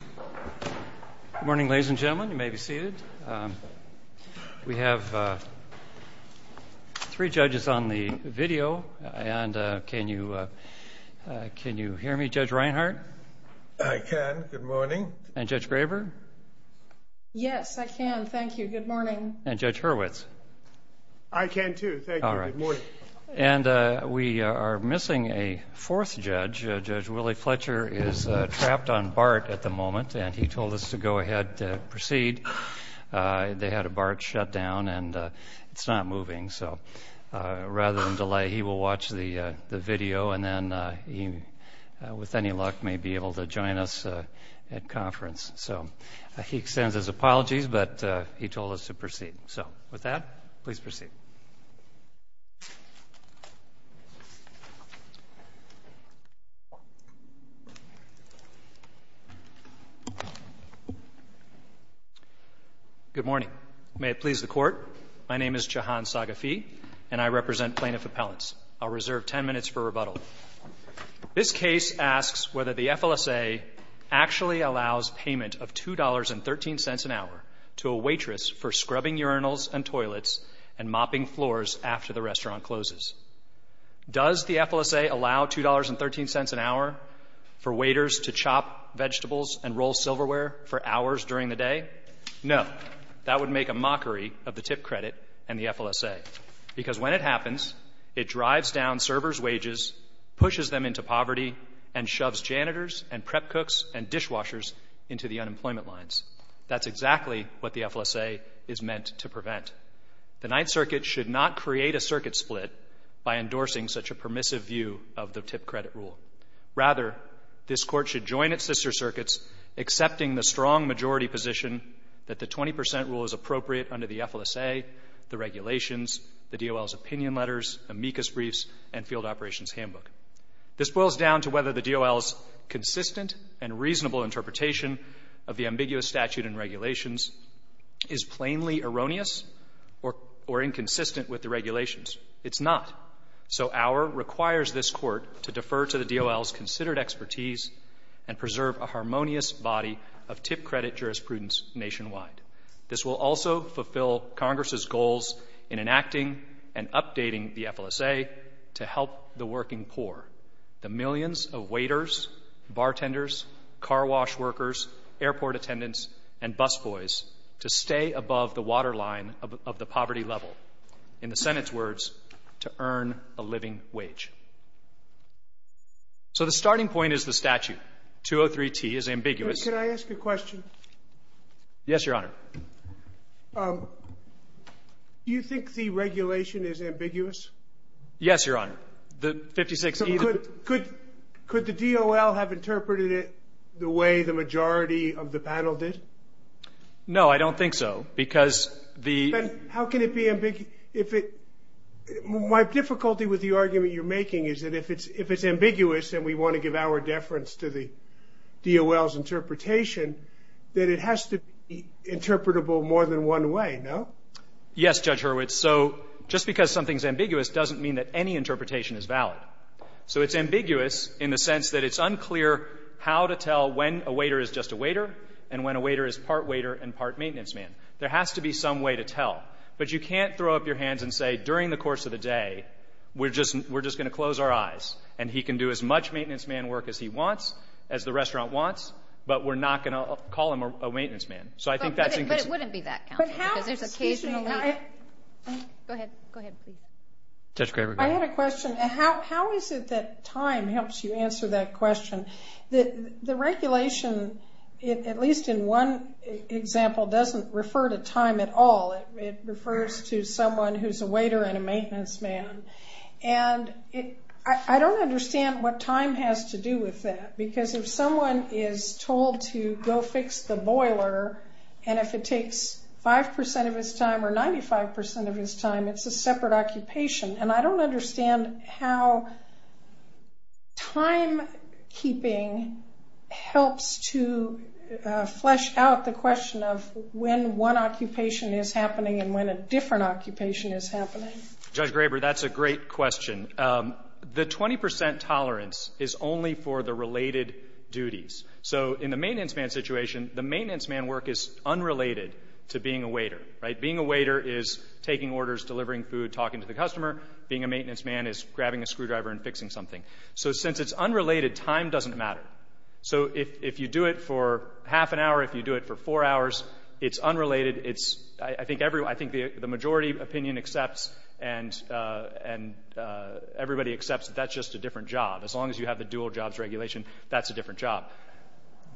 Good morning, ladies and gentlemen. You may be seated. We have three judges on the video, and can you hear me, Judge Reinhart? I can. Good morning. And Judge Graber? Yes, I can. Thank you. Good morning. And Judge Hurwitz? I can, too. Thank you. Good morning. And we are missing a fourth judge. Judge Willie Fletcher is trapped on BART at the moment, and he told us to go ahead and proceed. They had a BART shut down, and it's not moving. So rather than delay, he will watch the video, and then he, with any luck, may be able to join us at conference. So he extends his apologies, but he told us to proceed. So with that, please proceed. Good morning. May it please the Court, my name is Jahan Saghafi, and I represent plaintiff appellants. This case asks whether the FLSA actually allows payment of $2.13 an hour to a waitress for scrubbing urinals and toilets and mopping floors after the restaurant closes. Does the FLSA allow $2.13 an hour for waiters to chop vegetables and roll silverware for hours during the day? No. That would make a mockery of the tip credit and the FLSA, because when it happens, it drives down servers' wages, pushes them into poverty, and shoves janitors and prep cooks and dishwashers into the unemployment lines. That's exactly what the FLSA is meant to prevent. The Ninth Circuit should not create a circuit split by endorsing such a permissive view of the tip credit rule. Rather, this Court should join its sister circuits, accepting the strong majority position that the 20 percent rule is appropriate under the FLSA, the regulations, the DOL's opinion letters, amicus briefs, and field operations handbook. This boils down to whether the DOL's consistent and reasonable interpretation of the ambiguous statute and regulations is plainly erroneous or inconsistent with the regulations. It's not. So our requires this Court to defer to the DOL's considered expertise and preserve a harmonious body of tip credit jurisprudence nationwide. This will also fulfill Congress's goals in enacting and updating the FLSA to help the working poor, the millions of waiters, bartenders, car wash workers, airport attendants, and busboys to stay above the waterline of the poverty level. In the Senate's words, to earn a living wage. So the starting point is the statute. 203T is ambiguous. Sotomayor, can I ask a question? Yes, Your Honor. Do you think the regulation is ambiguous? Yes, Your Honor. The 56E. So could the DOL have interpreted it the way the majority of the panel did? No, I don't think so, because the ---- How can it be ambiguous? My difficulty with the argument you're making is that if it's ambiguous and we want to give our deference to the DOL's interpretation, that it has to be interpretable more than one way, no? Yes, Judge Hurwitz. So just because something's ambiguous doesn't mean that any interpretation is valid. So it's ambiguous in the sense that it's unclear how to tell when a waiter is just a waiter and when a waiter is part waiter and part maintenance man. There has to be some way to tell. But you can't throw up your hands and say, during the course of the day, we're just going to close our eyes. And he can do as much maintenance man work as he wants, as the restaurant wants, but we're not going to call him a maintenance man. So I think that's ---- But it wouldn't be that counter, because there's occasionally ---- Go ahead. Go ahead, please. Judge Kramer, go ahead. I had a question. How is it that time helps you answer that question? The regulation, at least in one example, doesn't refer to time at all. It refers to someone who's a waiter and a maintenance man. And I don't understand what time has to do with that, because if someone is told to go fix the boiler and if it takes 5% of his time or 95% of his time, it's a separate occupation. And I don't understand how timekeeping helps to flesh out the question of when one occupation is happening and when a different occupation is happening. Judge Graber, that's a great question. The 20% tolerance is only for the related duties. So in the maintenance man situation, the maintenance man work is unrelated to being a waiter. Being a waiter is taking orders, delivering food, talking to the customer. Being a maintenance man is grabbing a screwdriver and fixing something. So since it's unrelated, time doesn't matter. So if you do it for half an hour, if you do it for four hours, it's unrelated. I think the majority opinion accepts and everybody accepts that that's just a different job. As long as you have the dual jobs regulation, that's a different job.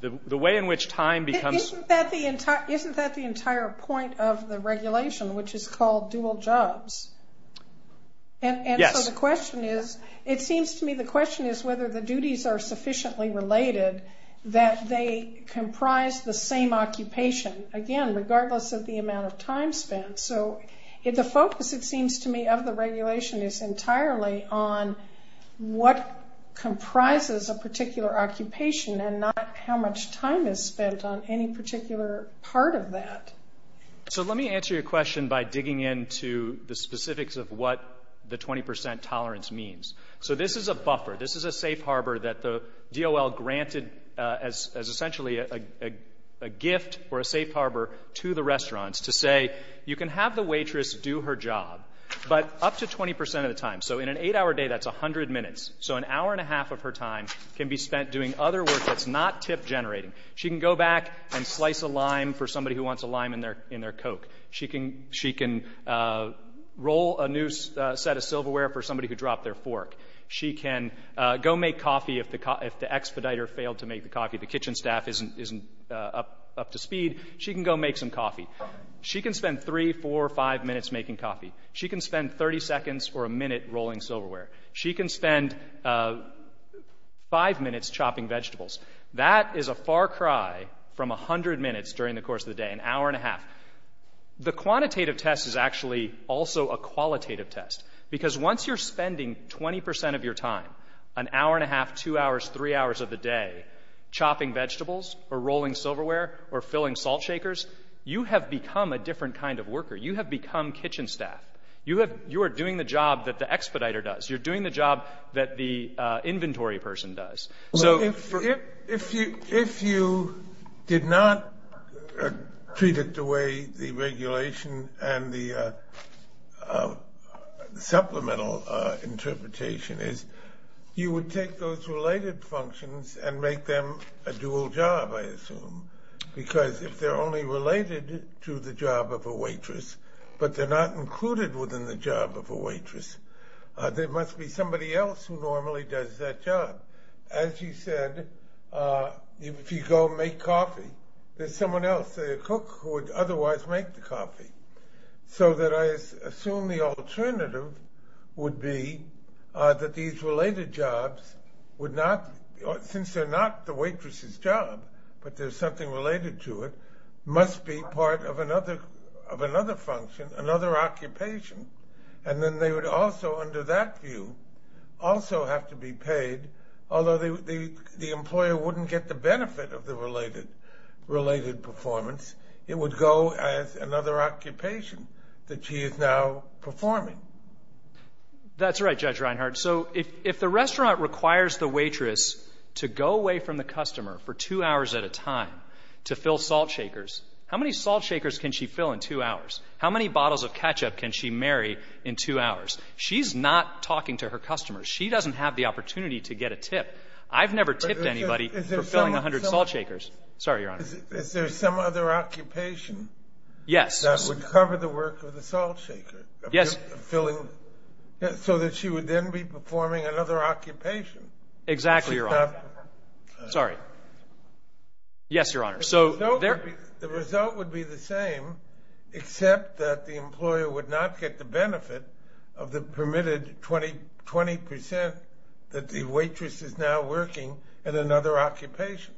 The way in which time becomes ---- Isn't that the entire point of the regulation, which is called dual jobs? Yes. And so the question is, it seems to me the question is whether the duties are sufficiently related that they comprise the same occupation, again, regardless of the amount of time spent. So the focus, it seems to me, of the regulation is entirely on what comprises a particular occupation and not how much time is spent on any particular part of that. So let me answer your question by digging into the specifics of what the 20% tolerance means. So this is a buffer. This is a safe harbor that the DOL granted as essentially a gift or a safe harbor to the restaurants to say, you can have the waitress do her job, but up to 20% of the time. So in an eight-hour day, that's 100 minutes. So an hour and a half of her time can be spent doing other work that's not tip generating. She can go back and slice a lime for somebody who wants a lime in their Coke. She can roll a new set of silverware for somebody who dropped their fork. She can go make coffee if the expediter failed to make the coffee. The kitchen staff isn't up to speed. She can go make some coffee. She can spend three, four, five minutes making coffee. She can spend 30 seconds or a minute rolling silverware. She can spend five minutes chopping vegetables. That is a far cry from 100 minutes during the course of the day, an hour and a half. The quantitative test is actually also a qualitative test because once you're spending 20% of your time, an hour and a half, two hours, three hours of the day, chopping vegetables or rolling silverware or filling salt shakers, you have become a different kind of worker. You have become kitchen staff. You are doing the job that the expediter does. You're doing the job that the inventory person does. So if you did not treat it the way the regulation and the supplemental interpretation is, you would take those related functions and make them a dual job, I assume, because if they're only related to the job of a waitress but they're not included within the job of a waitress, there must be somebody else who normally does that job. As you said, if you go make coffee, there's someone else, say a cook, who would otherwise make the coffee. So I assume the alternative would be that these related jobs would not, since they're not the waitress's job but there's something related to it, must be part of another function, another occupation, and then they would also under that view also have to be paid, although the employer wouldn't get the benefit of the related performance. It would go as another occupation that he is now performing. That's right, Judge Reinhardt. So if the restaurant requires the waitress to go away from the customer for two hours at a time to fill salt shakers, how many salt shakers can she fill in two hours? How many bottles of ketchup can she marry in two hours? She's not talking to her customers. She doesn't have the opportunity to get a tip. I've never tipped anybody for filling 100 salt shakers. Sorry, Your Honor. Is there some other occupation? Yes. That would cover the work of the salt shaker? Yes. So that she would then be performing another occupation. Exactly, Your Honor. Sorry. Yes, Your Honor. The result would be the same except that the employer would not get the benefit of the permitted 20% that the waitress is now working in another occupation.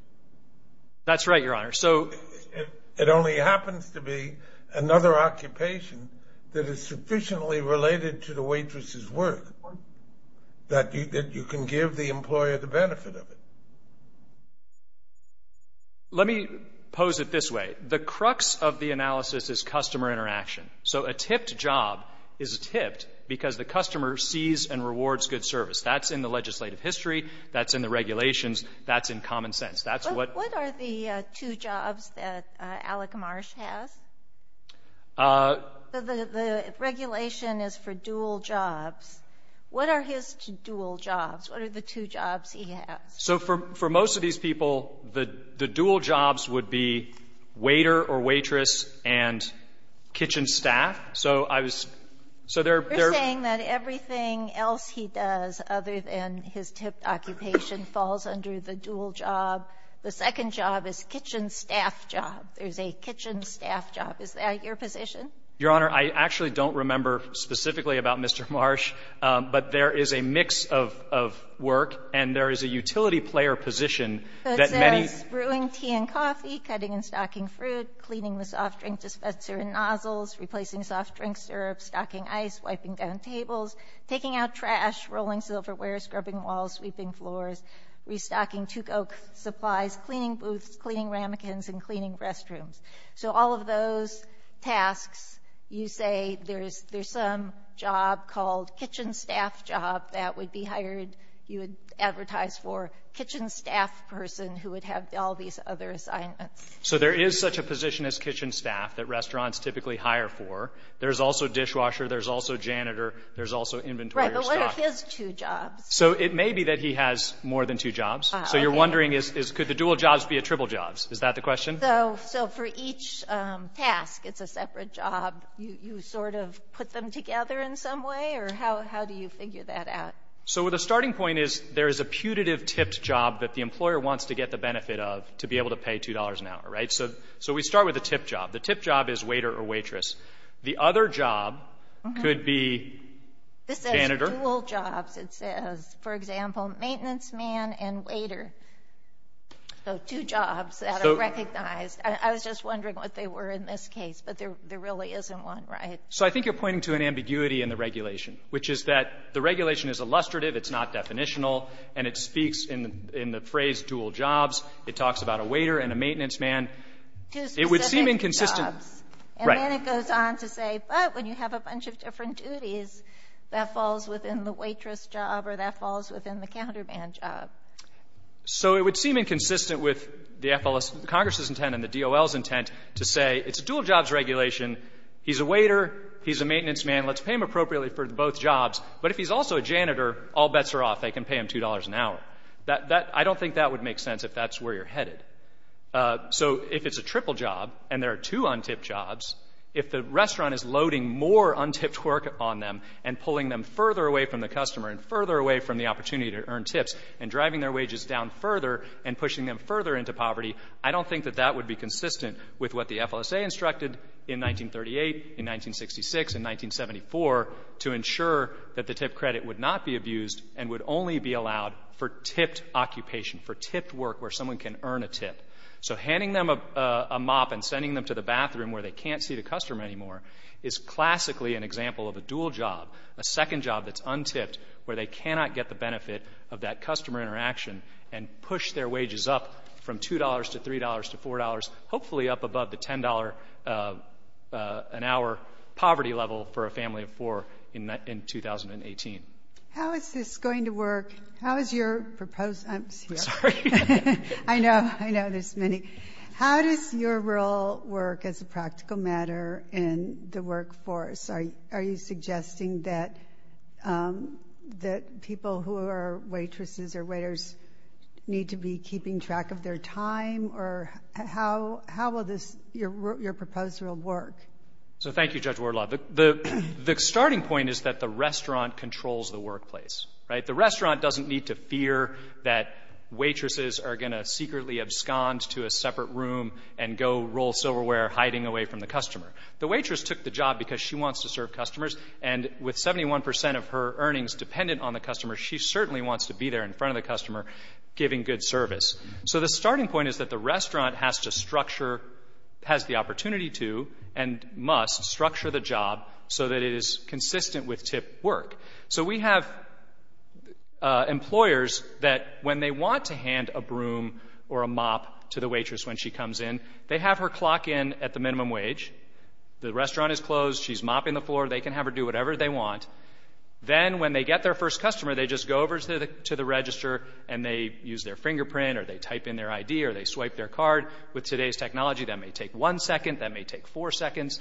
That's right, Your Honor. It only happens to be another occupation that is sufficiently related to the waitress's work that you can give the employer the benefit of it. Let me pose it this way. The crux of the analysis is customer interaction. So a tipped job is tipped because the customer sees and rewards good service. That's in the legislative history. That's in the regulations. That's in common sense. What are the two jobs that Alec Marsh has? The regulation is for dual jobs. What are his dual jobs? What are the two jobs he has? So for most of these people, the dual jobs would be waiter or waitress and kitchen staff. So I was so they're saying that everything else he does other than his tipped occupation falls under the dual job. The second job is kitchen staff job. There's a kitchen staff job. Is that your position? Your Honor, I actually don't remember specifically about Mr. Marsh. But there is a mix of work, and there is a utility player position that many of the cleaning the soft drink dispenser and nozzles, replacing soft drink syrup, stocking ice, wiping down tables, taking out trash, rolling silverware, scrubbing walls, sweeping floors, restocking tuque oak supplies, cleaning booths, cleaning ramekins, and cleaning restrooms. So all of those tasks, you say there's some job called kitchen staff job that would be hired, you would advertise for kitchen staff person who would have all these other assignments. So there is such a position as kitchen staff that restaurants typically hire for. There's also dishwasher. There's also janitor. There's also inventory. Right. But what if it's two jobs? So it may be that he has more than two jobs. So you're wondering is could the dual jobs be a triple jobs? Is that the question? So for each task, it's a separate job. You sort of put them together in some way? Or how do you figure that out? So the starting point is there is a putative tipped job that the employer wants to get the benefit of to be able to pay $2 an hour, right? So we start with a tipped job. The tipped job is waiter or waitress. The other job could be janitor. This says dual jobs. It says, for example, maintenance man and waiter. So two jobs that are recognized. I was just wondering what they were in this case. But there really isn't one, right? So I think you're pointing to an ambiguity in the regulation, which is that the regulation is illustrative, it's not definitional, and it speaks in the phrase dual jobs. It talks about a waiter and a maintenance man. It would seem inconsistent. Right. And then it goes on to say, but when you have a bunch of different duties, that falls within the waitress job or that falls within the counterman job. So it would seem inconsistent with the Congress' intent and the DOL's intent to say it's a dual jobs regulation. He's a waiter. He's a maintenance man. Let's pay him appropriately for both jobs. But if he's also a janitor, all bets are off. They can pay him $2 an hour. I don't think that would make sense if that's where you're headed. So if it's a triple job and there are two un-tipped jobs, if the restaurant is loading more un-tipped work on them and pulling them further away from the customer and further away from the opportunity to earn tips and driving their wages down further and pushing them further into poverty, I don't think that that would be consistent with what the FLSA instructed in 1938, in 1966, in 1974 to ensure that the tip credit would not be abused and would only be allowed for tipped occupation, for tipped work where someone can earn a tip. So handing them a mop and sending them to the bathroom where they can't see the customer anymore is classically an example of a dual job, a second job that's un-tipped where they cannot get the benefit of that customer interaction and push their wages up from $2 to $3 to $4, hopefully up above the $10 an hour poverty level for a family of four in 2018. How is this going to work? How is your proposed—I'm sorry. I know there's many. How does your rule work as a practical matter in the workforce? Do they need to be keeping track of their time? Or how will your proposal work? So thank you, Judge Wardlaw. The starting point is that the restaurant controls the workplace, right? The restaurant doesn't need to fear that waitresses are going to secretly abscond to a separate room and go roll silverware hiding away from the customer. The waitress took the job because she wants to serve customers, and with 71 percent of her earnings dependent on the customer, she certainly wants to be there in front of the customer giving good service. So the starting point is that the restaurant has the opportunity to and must structure the job so that it is consistent with tip work. So we have employers that when they want to hand a broom or a mop to the waitress when she comes in, they have her clock in at the minimum wage. The restaurant is closed. She's mopping the floor. They can have her do whatever they want. Then when they get their first customer, they just go over to the register, and they use their fingerprint, or they type in their ID, or they swipe their card. With today's technology, that may take one second. That may take four seconds.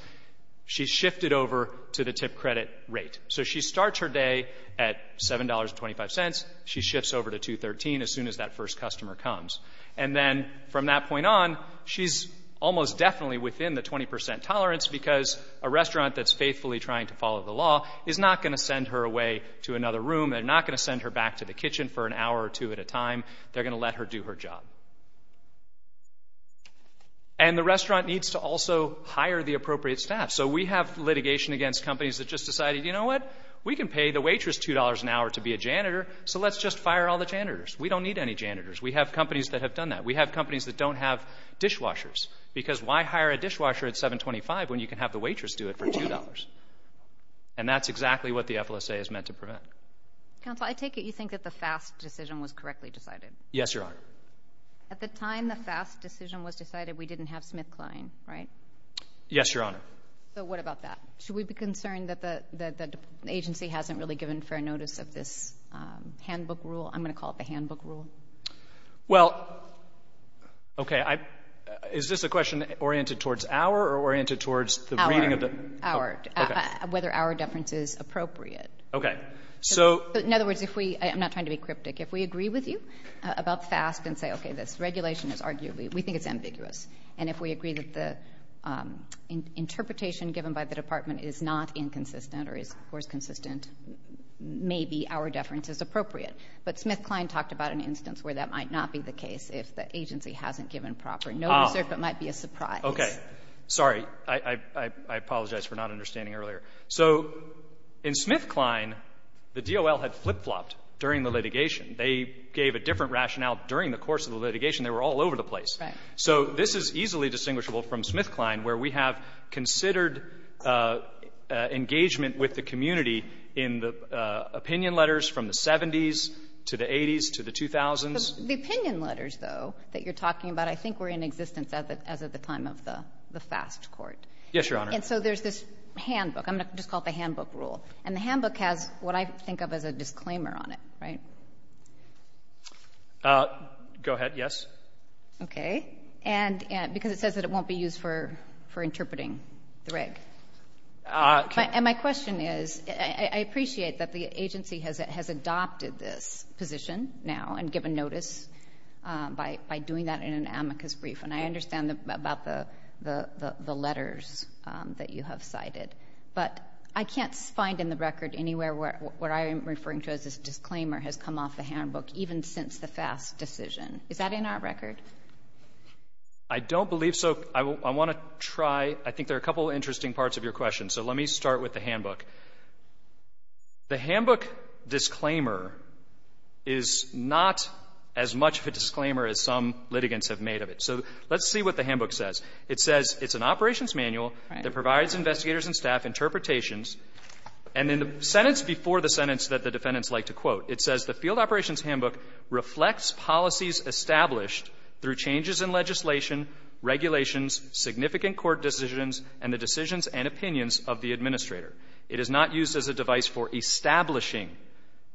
She's shifted over to the tip credit rate. So she starts her day at $7.25. She shifts over to $2.13 as soon as that first customer comes. And then from that point on, she's almost definitely within the 20 percent tolerance because a restaurant that's faithfully trying to follow the law is not going to send her away to another room. They're not going to send her back to the kitchen for an hour or two at a time. They're going to let her do her job. And the restaurant needs to also hire the appropriate staff. So we have litigation against companies that just decided, you know what, we can pay the waitress $2 an hour to be a janitor, so let's just fire all the janitors. We don't need any janitors. We have companies that have done that. We have companies that don't have dishwashers. Because why hire a dishwasher at $7.25 when you can have the waitress do it for $2? And that's exactly what the FLSA is meant to prevent. Counsel, I take it you think that the FAST decision was correctly decided. Yes, Your Honor. At the time the FAST decision was decided, we didn't have SmithKline, right? Yes, Your Honor. So what about that? Should we be concerned that the agency hasn't really given fair notice of this handbook rule? I'm going to call it the handbook rule. Well, okay, is this a question oriented towards our or oriented towards the reading of the? Our. Okay. Whether our deference is appropriate. Okay, so. In other words, if we, I'm not trying to be cryptic, if we agree with you about FAST and say, okay, this regulation is arguably, we think it's ambiguous, and if we agree that the interpretation given by the department is not inconsistent or is, of course, consistent, maybe our deference is appropriate. But SmithKline talked about an instance where that might not be the case if the agency hasn't given proper notice or if it might be a surprise. Okay. Sorry. I apologize for not understanding earlier. So in SmithKline, the DOL had flip-flopped during the litigation. They gave a different rationale during the course of the litigation. They were all over the place. Right. So this is easily distinguishable from SmithKline, where we have considered engagement with the community in the opinion letters from the 70s to the 80s to the 2000s. The opinion letters, though, that you're talking about, I think were in existence as of the time of the FAST court. Yes, Your Honor. And so there's this handbook. I'm going to just call it the handbook rule. And the handbook has what I think of as a disclaimer on it, right? Go ahead. Yes. Okay. And because it says that it won't be used for interpreting the reg. And my question is, I appreciate that the agency has adopted this position now and given notice by doing that in an amicus brief, and I understand about the letters that you have cited. But I can't find in the record anywhere where I am referring to as a disclaimer has come off the handbook, even since the FAST decision. Is that in our record? I don't believe so. I want to try. I think there are a couple of interesting parts of your question. So let me start with the handbook. The handbook disclaimer is not as much of a disclaimer as some litigants have made of it. So let's see what the handbook says. It says it's an operations manual that provides investigators and staff interpretations. And in the sentence before the sentence that the defendants like to quote, it says the field operations handbook reflects policies established through changes in legislation, regulations, significant court decisions, and the decisions and opinions of the administrator. It is not used as a device for establishing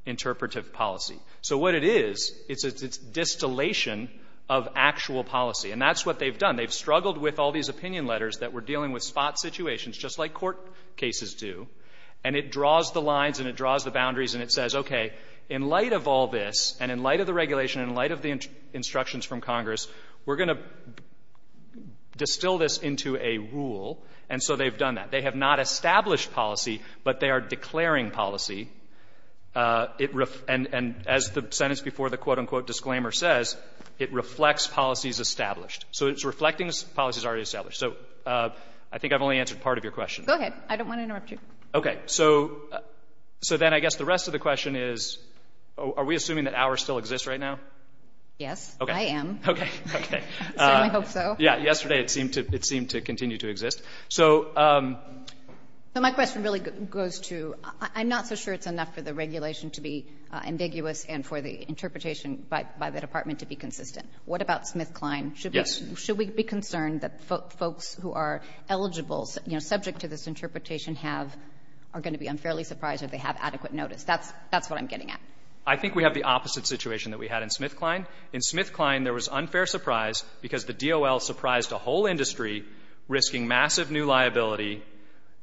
interpretive policy. So what it is, it's a distillation of actual policy. And that's what they've done. They've struggled with all these opinion letters that were dealing with spot situations, just like court cases do. And it draws the lines and it draws the boundaries and it says, okay, in light of all this and in light of the regulation, in light of the instructions from Congress, we're going to distill this into a rule. And so they've done that. They have not established policy, but they are declaring policy. And as the sentence before the quote, unquote, disclaimer says, it reflects policies established. So it's reflecting policies already established. So I think I've only answered part of your question. Go ahead. I don't want to interrupt you. Okay. So then I guess the rest of the question is, are we assuming that ours still exists right now? Yes. Okay. I am. Okay. Okay. I certainly hope so. Yeah. Yesterday it seemed to continue to exist. So my question really goes to, I'm not so sure it's enough for the regulation to be ambiguous and for the interpretation by the department to be consistent. What about SmithKline? Yes. Should we be concerned that folks who are eligible, you know, subject to this interpretation have or are going to be unfairly surprised if they have adequate notice? That's what I'm getting at. I think we have the opposite situation that we had in SmithKline. In SmithKline, there was unfair surprise because the DOL surprised a whole industry risking massive new liability,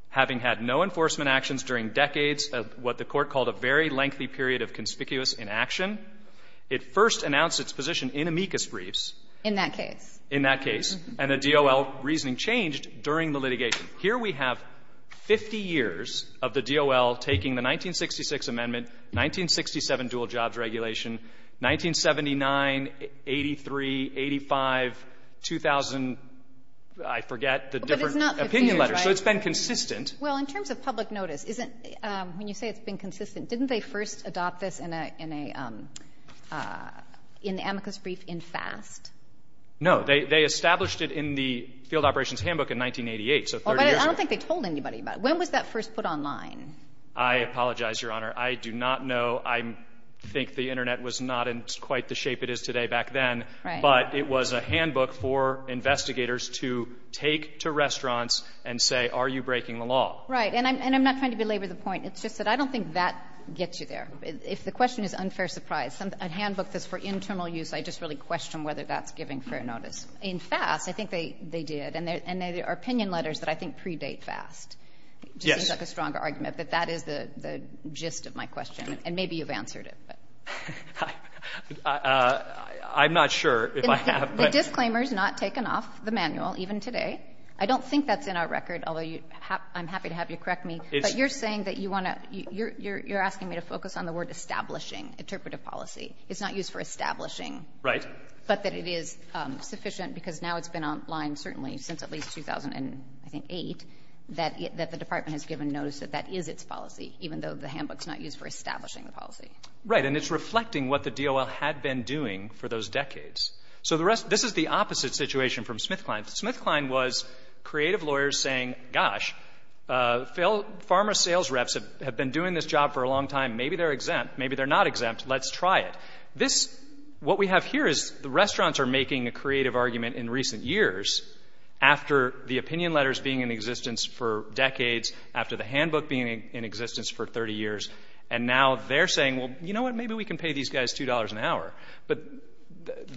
having had no enforcement actions during decades of what the Court called a very lengthy period of conspicuous inaction. It first announced its position in amicus briefs. In that case. In that case. And the DOL reasoning changed during the litigation. Here we have 50 years of the DOL taking the 1966 amendment, 1967 dual-jobs regulation, 1979, 83, 85, 2000, I forget, the different opinion letters. But it's not 50 years, right? So it's been consistent. Well, in terms of public notice, isn't — when you say it's been consistent, didn't they first adopt this in a — in the amicus brief in FAST? No. They established it in the Field Operations Handbook in 1988, so 30 years ago. I don't think they told anybody about it. When was that first put online? I apologize, Your Honor. I do not know. I think the Internet was not in quite the shape it is today back then. Right. But it was a handbook for investigators to take to restaurants and say, are you breaking the law? And I'm not trying to belabor the point. It's just that I don't think that gets you there. If the question is unfair surprise, a handbook that's for internal use, I just really question whether that's giving fair notice. In FAST, I think they did. And there are opinion letters that I think predate FAST. Yes. It seems like a stronger argument, but that is the gist of my question. And maybe you've answered it. I'm not sure if I have. The disclaimer is not taken off the manual, even today. I don't think that's in our record, although I'm happy to have you correct me. But you're saying that you want to – you're asking me to focus on the word establishing, interpretive policy. It's not used for establishing. Right. But that it is sufficient, because now it's been online certainly since at least 2008, that the Department has given notice that that is its policy, even though the handbook's not used for establishing the policy. Right. And it's reflecting what the DOL had been doing for those decades. So the rest – this is the opposite situation from SmithKline. SmithKline was creative lawyers saying, gosh, pharma sales reps have been doing this job for a long time. Maybe they're exempt. Maybe they're not exempt. Let's try it. This – what we have here is the restaurants are making a creative argument in recent years after the opinion letters being in existence for decades, after the handbook being in existence for 30 years, and now they're saying, well, you know what, maybe we can pay these guys $2 an hour. But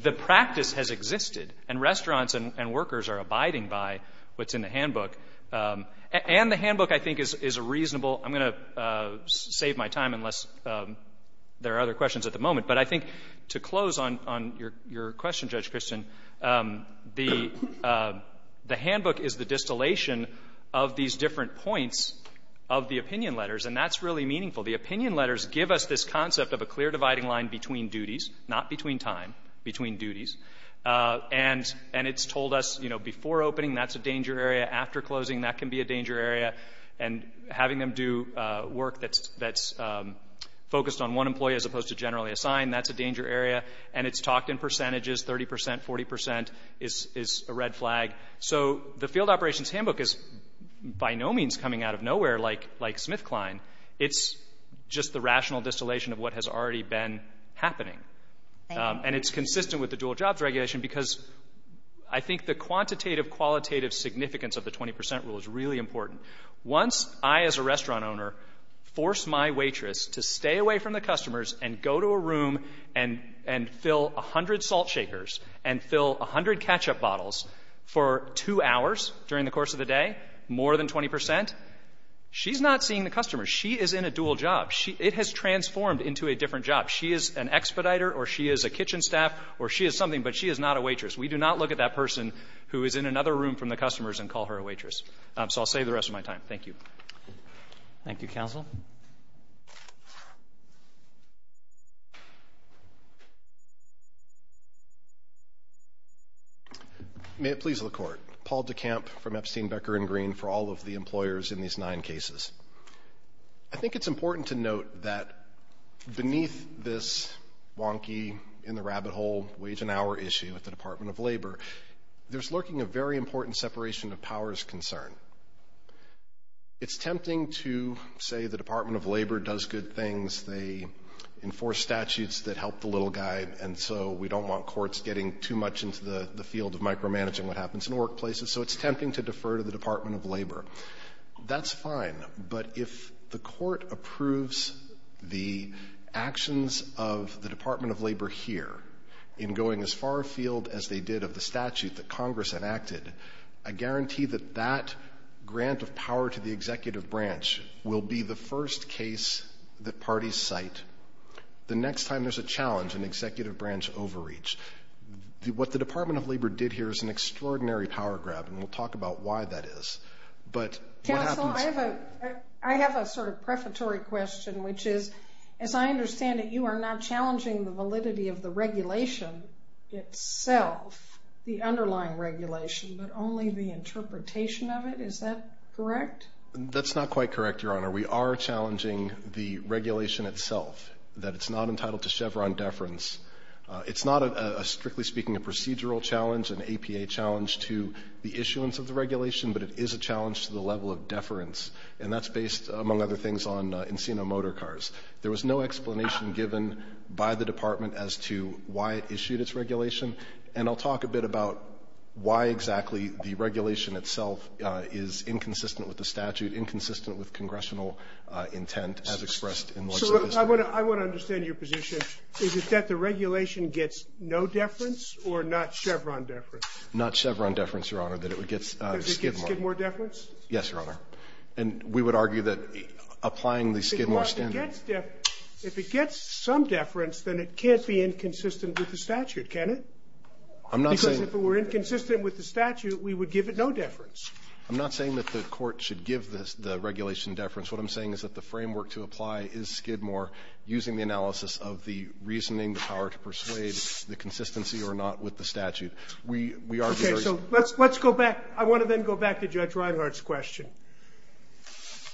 the practice has existed, and restaurants and workers are abiding by what's in the handbook. And the handbook, I think, is a reasonable – I'm going to save my time unless there are other questions at the moment, but I think to close on your question, Judge Christian, the handbook is the distillation of these different points of the opinion letters, and that's really meaningful. The opinion letters give us this concept of a clear dividing line between duties – not between time – between duties. And it's told us, you know, before opening, that's a danger area. After closing, that can be a danger area. And having them do work that's focused on one employee as opposed to generally assigned, that's a danger area. And it's talked in percentages – 30 percent, 40 percent is a red flag. So the field operations handbook is by no means coming out of nowhere like SmithKline. It's just the rational distillation of what has already been happening. And it's consistent with the dual jobs regulation because I think the quantitative, qualitative significance of the 20 percent rule is really important. Once I, as a restaurant owner, force my waitress to stay away from the customers and go to a room and fill 100 salt shakers and fill 100 ketchup bottles for two hours during the course of the day, more than 20 percent, she's not seeing the customers. She is in a dual job. She – it has transformed into a different job. She is an expediter or she is a kitchen staff or she is something, but she is not a waitress. We do not look at that person who is in another room from the customers and call her a waitress. So I'll save the rest of my time. Thank you. Thank you, counsel. May it please the Court. Paul DeCamp from Epstein, Becker & Green for all of the employers in these nine cases. I think it's important to note that beneath this wonky, in-the-rabbit-hole, wage-an-hour issue at the Department of Labor, there's lurking a very important separation of powers concern. It's tempting to say the Department of Labor does good things. They enforce statutes that help the little guy, and so we don't want courts getting too much into the field of micromanaging what happens in workplaces, so it's tempting to defer to the Department of Labor. That's fine, but if the Court approves the actions of the Department of Labor here in going as far afield as they did of the statute that Congress enacted, I guarantee that that grant of power to the executive branch will be the first case that parties cite the next time there's a challenge in executive branch overreach. What the Department of Labor did here is an extraordinary power grab, and we'll talk about why that is. Counsel, I have a sort of prefatory question, which is, as I understand it, you are not challenging the validity of the regulation itself, the underlying regulation, but only the interpretation of it. Is that correct? That's not quite correct, Your Honor. We are challenging the regulation itself, that it's not entitled to Chevron deference. It's not, strictly speaking, a procedural challenge, an APA challenge to the issuance of the regulation, but it is a challenge to the level of deference, and that's based, among other things, on Encino motor cars. There was no explanation given by the Department as to why it issued its regulation, and I'll talk a bit about why exactly the regulation itself is inconsistent with the statute, inconsistent with congressional intent as expressed in Legislative I want to understand your position. Is it that the regulation gets no deference or not Chevron deference? Not Chevron deference, Your Honor, that it would get Skidmore. That it would get Skidmore deference? Yes, Your Honor. And we would argue that applying the Skidmore standard. If it gets deference, if it gets some deference, then it can't be inconsistent with the statute, can it? I'm not saying. Because if it were inconsistent with the statute, we would give it no deference. I'm not saying that the Court should give the regulation deference. What I'm saying is that the framework to apply is Skidmore using the analysis of the reasoning, the power to persuade, the consistency or not with the statute. We argue there is. Okay, so let's go back. I want to then go back to Judge Reinhart's question.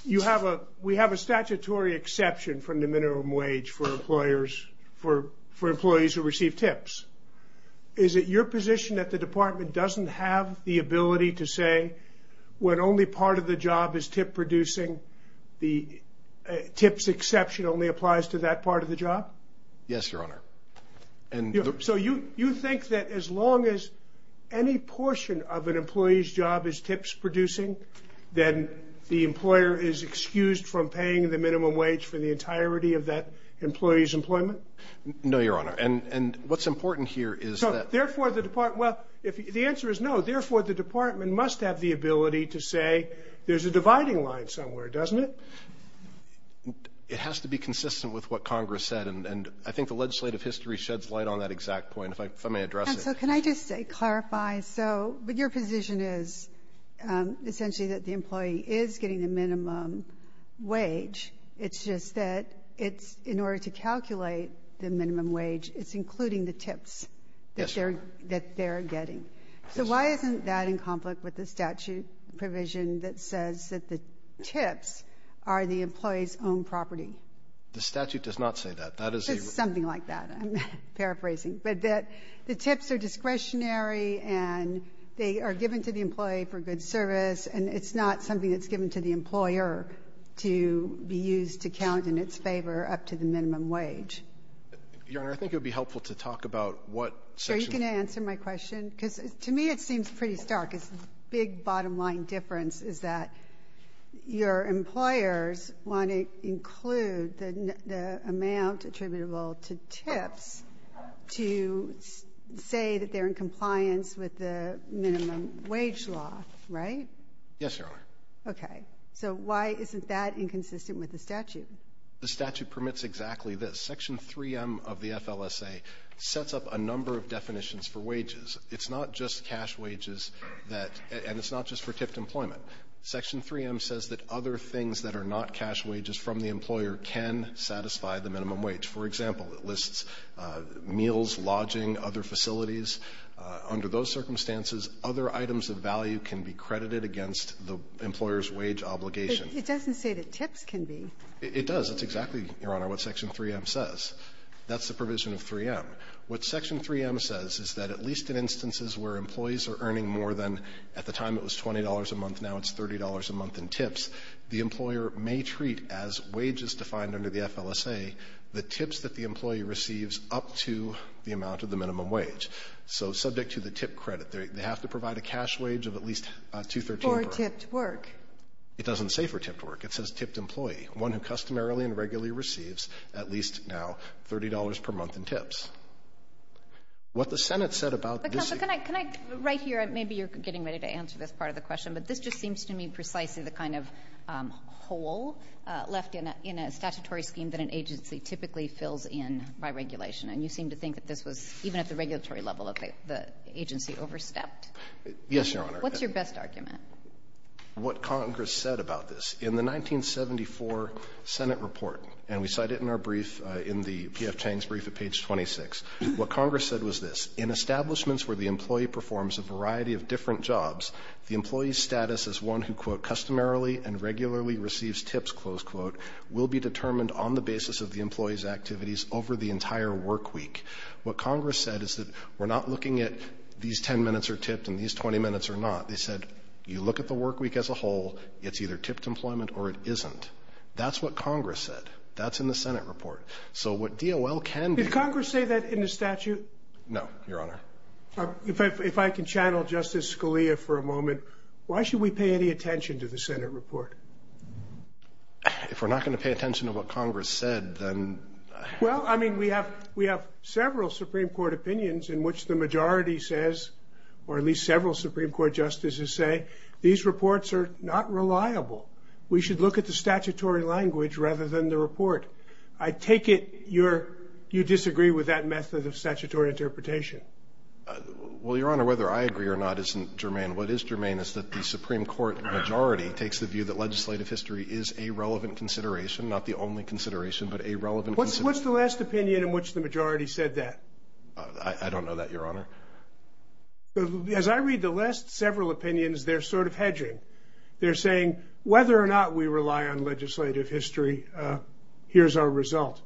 We have a statutory exception from the minimum wage for employees who receive tips. Is it your position that the Department doesn't have the ability to say when only part of the job is tip-producing, the tips exception only applies to that part of the job? Yes, Your Honor. So you think that as long as any portion of an employee's job is tips-producing, then the employer is excused from paying the minimum wage for the entirety of that employee's employment? No, Your Honor. And what's important here is that. Therefore, the Department. Well, the answer is no. Therefore, the Department must have the ability to say there's a dividing line somewhere, doesn't it? It has to be consistent with what Congress said. And I think the legislative history sheds light on that exact point. If I may address it. Counsel, can I just clarify? So your position is essentially that the employee is getting the minimum wage. It's just that it's in order to calculate the minimum wage, it's including the tips that they're getting. So why isn't that in conflict with the statute provision that says that the tips are the employee's own property? The statute does not say that. It says something like that. I'm paraphrasing. But the tips are discretionary and they are given to the employee for good service, and it's not something that's given to the employer to be used to count in its favor up to the minimum wage. Your Honor, I think it would be helpful to talk about what section. You can answer my question, because to me it seems pretty stark. It's a big bottom line difference is that your employers want to include the amount attributable to tips to say that they're in compliance with the minimum wage law, right? Yes, Your Honor. Okay. So why isn't that inconsistent with the statute? The statute permits exactly this. Section 3M of the FLSA sets up a number of definitions for wages. It's not just cash wages that — and it's not just for tipped employment. Section 3M says that other things that are not cash wages from the employer can satisfy the minimum wage. For example, it lists meals, lodging, other facilities. Under those circumstances, other items of value can be credited against the employer's wage obligation. But it doesn't say that tips can be. It does. It's exactly, Your Honor, what section 3M says. That's the provision of 3M. What section 3M says is that at least in instances where employees are earning more than, at the time it was $20 a month, now it's $30 a month in tips, the employer may treat as wages defined under the FLSA the tips that the employee receives up to the amount of the minimum wage. So subject to the tip credit, they have to provide a cash wage of at least $2.13 per hour. For tipped work. It doesn't say for tipped work. It says tipped employee. One who customarily and regularly receives at least now $30 per month in tips. What the Senate said about this ---- Kagan. But, Counsel, can I ---- right here, maybe you're getting ready to answer this part of the question, but this just seems to me precisely the kind of hole left in a statutory scheme that an agency typically fills in by regulation. And you seem to think that this was, even at the regulatory level, that the agency overstepped? Yes, Your Honor. What's your best argument? What Congress said about this, in the 1974 Senate report, and we cite it in our brief in the P.F. Chang's brief at page 26, what Congress said was this. In establishments where the employee performs a variety of different jobs, the employee's status as one who, quote, customarily and regularly receives tips, close quote, will be determined on the basis of the employee's activities over the entire work week. What Congress said is that we're not looking at these 10 minutes are tipped and these 20 minutes are not. They said, you look at the work week as a whole, it's either tipped employment or it isn't. That's what Congress said. That's in the Senate report. So what DOL can do ---- Did Congress say that in the statute? No, Your Honor. If I can channel Justice Scalia for a moment, why should we pay any attention to the Senate report? If we're not going to pay attention to what Congress said, then ---- Well, I mean, we have several Supreme Court opinions in which the majority says, or at least several Supreme Court justices say, these reports are not reliable. We should look at the statutory language rather than the report. I take it you disagree with that method of statutory interpretation. Well, Your Honor, whether I agree or not isn't germane. What is germane is that the Supreme Court majority takes the view that legislative history is a relevant consideration, not the only consideration, but a relevant consideration. What's the last opinion in which the majority said that? I don't know that, Your Honor. As I read the last several opinions, they're sort of hedging. They're saying, whether or not we rely on legislative history, here's our result.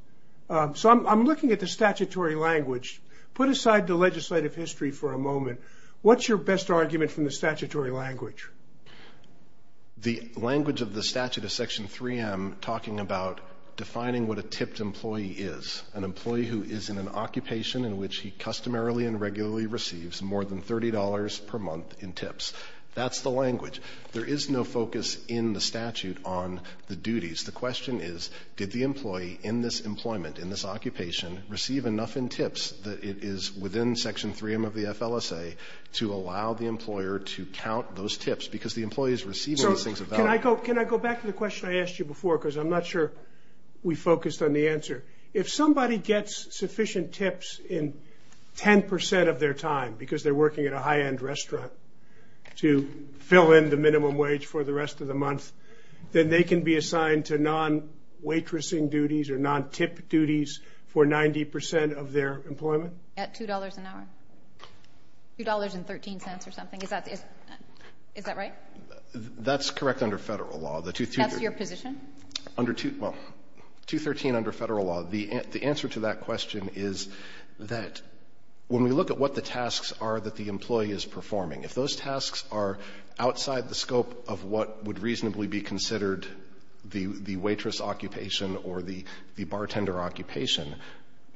So I'm looking at the statutory language. Put aside the legislative history for a moment. What's your best argument from the statutory language? The language of the statute of Section 3M talking about defining what a tipped employee is, an employee who is in an occupation in which he customarily and regularly receives more than $30 per month in tips. That's the language. There is no focus in the statute on the duties. The question is, did the employee in this employment, in this occupation, receive enough in tips that it is within Section 3M of the FLSA to allow the employer to count those tips because the employee's receiving these things of value. Can I go back to the question I asked you before because I'm not sure we focused on the answer. If somebody gets sufficient tips in 10% of their time because they're working at a high-end restaurant to fill in the minimum wage for the rest of the month, then they can be assigned to non-waitressing duties or non-tip duties for 90% of their employment? At $2 an hour. $2.13 or something. Is that right? That's correct under federal law. That's your position? Under 2, well, 2.13 under federal law, the answer to that question is that when we look at what the tasks are that the employee is performing, if those tasks are outside the scope of what would reasonably be considered the waitress occupation or the bartender occupation,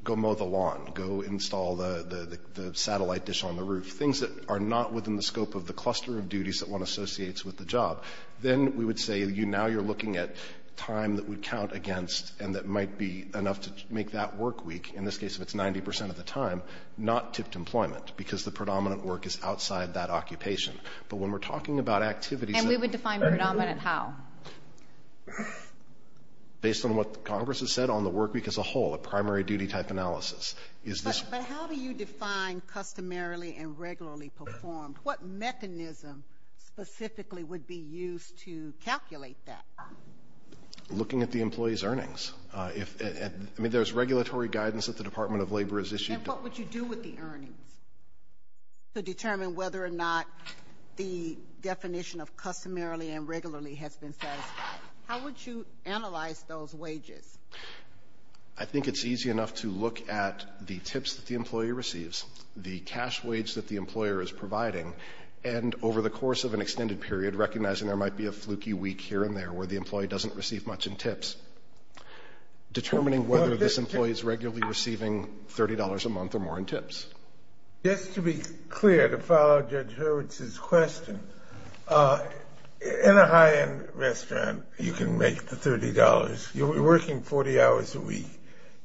go mow the lawn, go install the satellite dish on the roof, things that are not within the scope of the cluster of duties that one associates with the job. Then we would say now you're looking at time that would count against and that might be enough to make that work week, in this case, if it's 90% of the time, not tipped employment because the predominant work is outside that occupation. But when we're talking about activities... And we would define predominant how? Based on what Congress has said on the work week as a whole, a primary duty type analysis. But how do you define customarily and regularly performed? What mechanism specifically would be used to calculate that? Looking at the employee's earnings. I mean, there's regulatory guidance that the Department of Labor has issued. And what would you do with the earnings to determine whether or not the definition of customarily and regularly has been satisfied? How would you analyze those wages? I think it's easy enough to look at the tips that the employee receives, the cash wage that the employer is providing, and over the course of an extended period, recognizing there might be a fluky week here and there where the employee doesn't receive much in tips. Determining whether this employee is regularly receiving $30 a month or more in tips. Just to be clear, to follow Judge Hurwitz's question, in a high-end restaurant, you can make the $30. You're working 40 hours a week.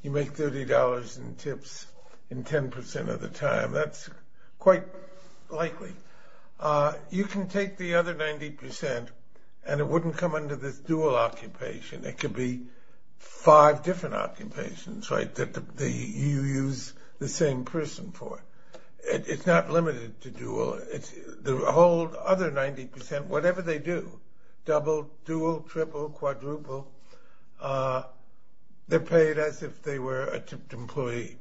You make $30 in tips in 10% of the time. That's quite likely. You can take the other 90% and it wouldn't come under this dual occupation. It could be five different occupations, right, that you use the same person for. It's not limited to dual. The whole other 90%, whatever they do, double, dual, triple, quadruple, they're paid as if they were a tipped employee.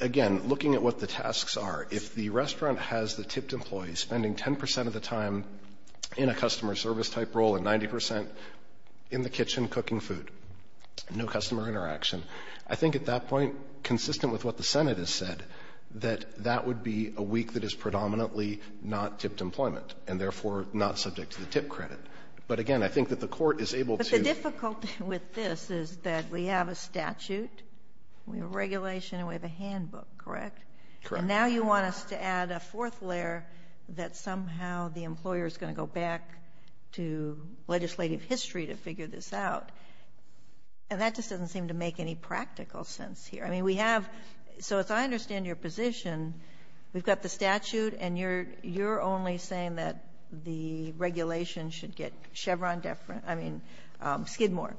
Again, looking at what the tasks are, if the restaurant has the tipped employee spending 10% of the time in a customer service type role and 90% in the kitchen cooking food, no customer interaction, I think at that point, consistent with what the Senate has said, that that would be a week that is predominantly not tipped employment and therefore not subject to the tip credit. But again, I think that the Court is able to — But the difficulty with this is that we have a statute, we have a regulation, and we have a handbook, correct? Correct. And now you want us to add a fourth layer that somehow the employer is going to go back to legislative history to figure this out. And that just doesn't seem to make any practical sense here. I mean, we have — so as I understand your position, we've got the statute and you're only saying that the regulation should get Chevron — I mean, Skidmore,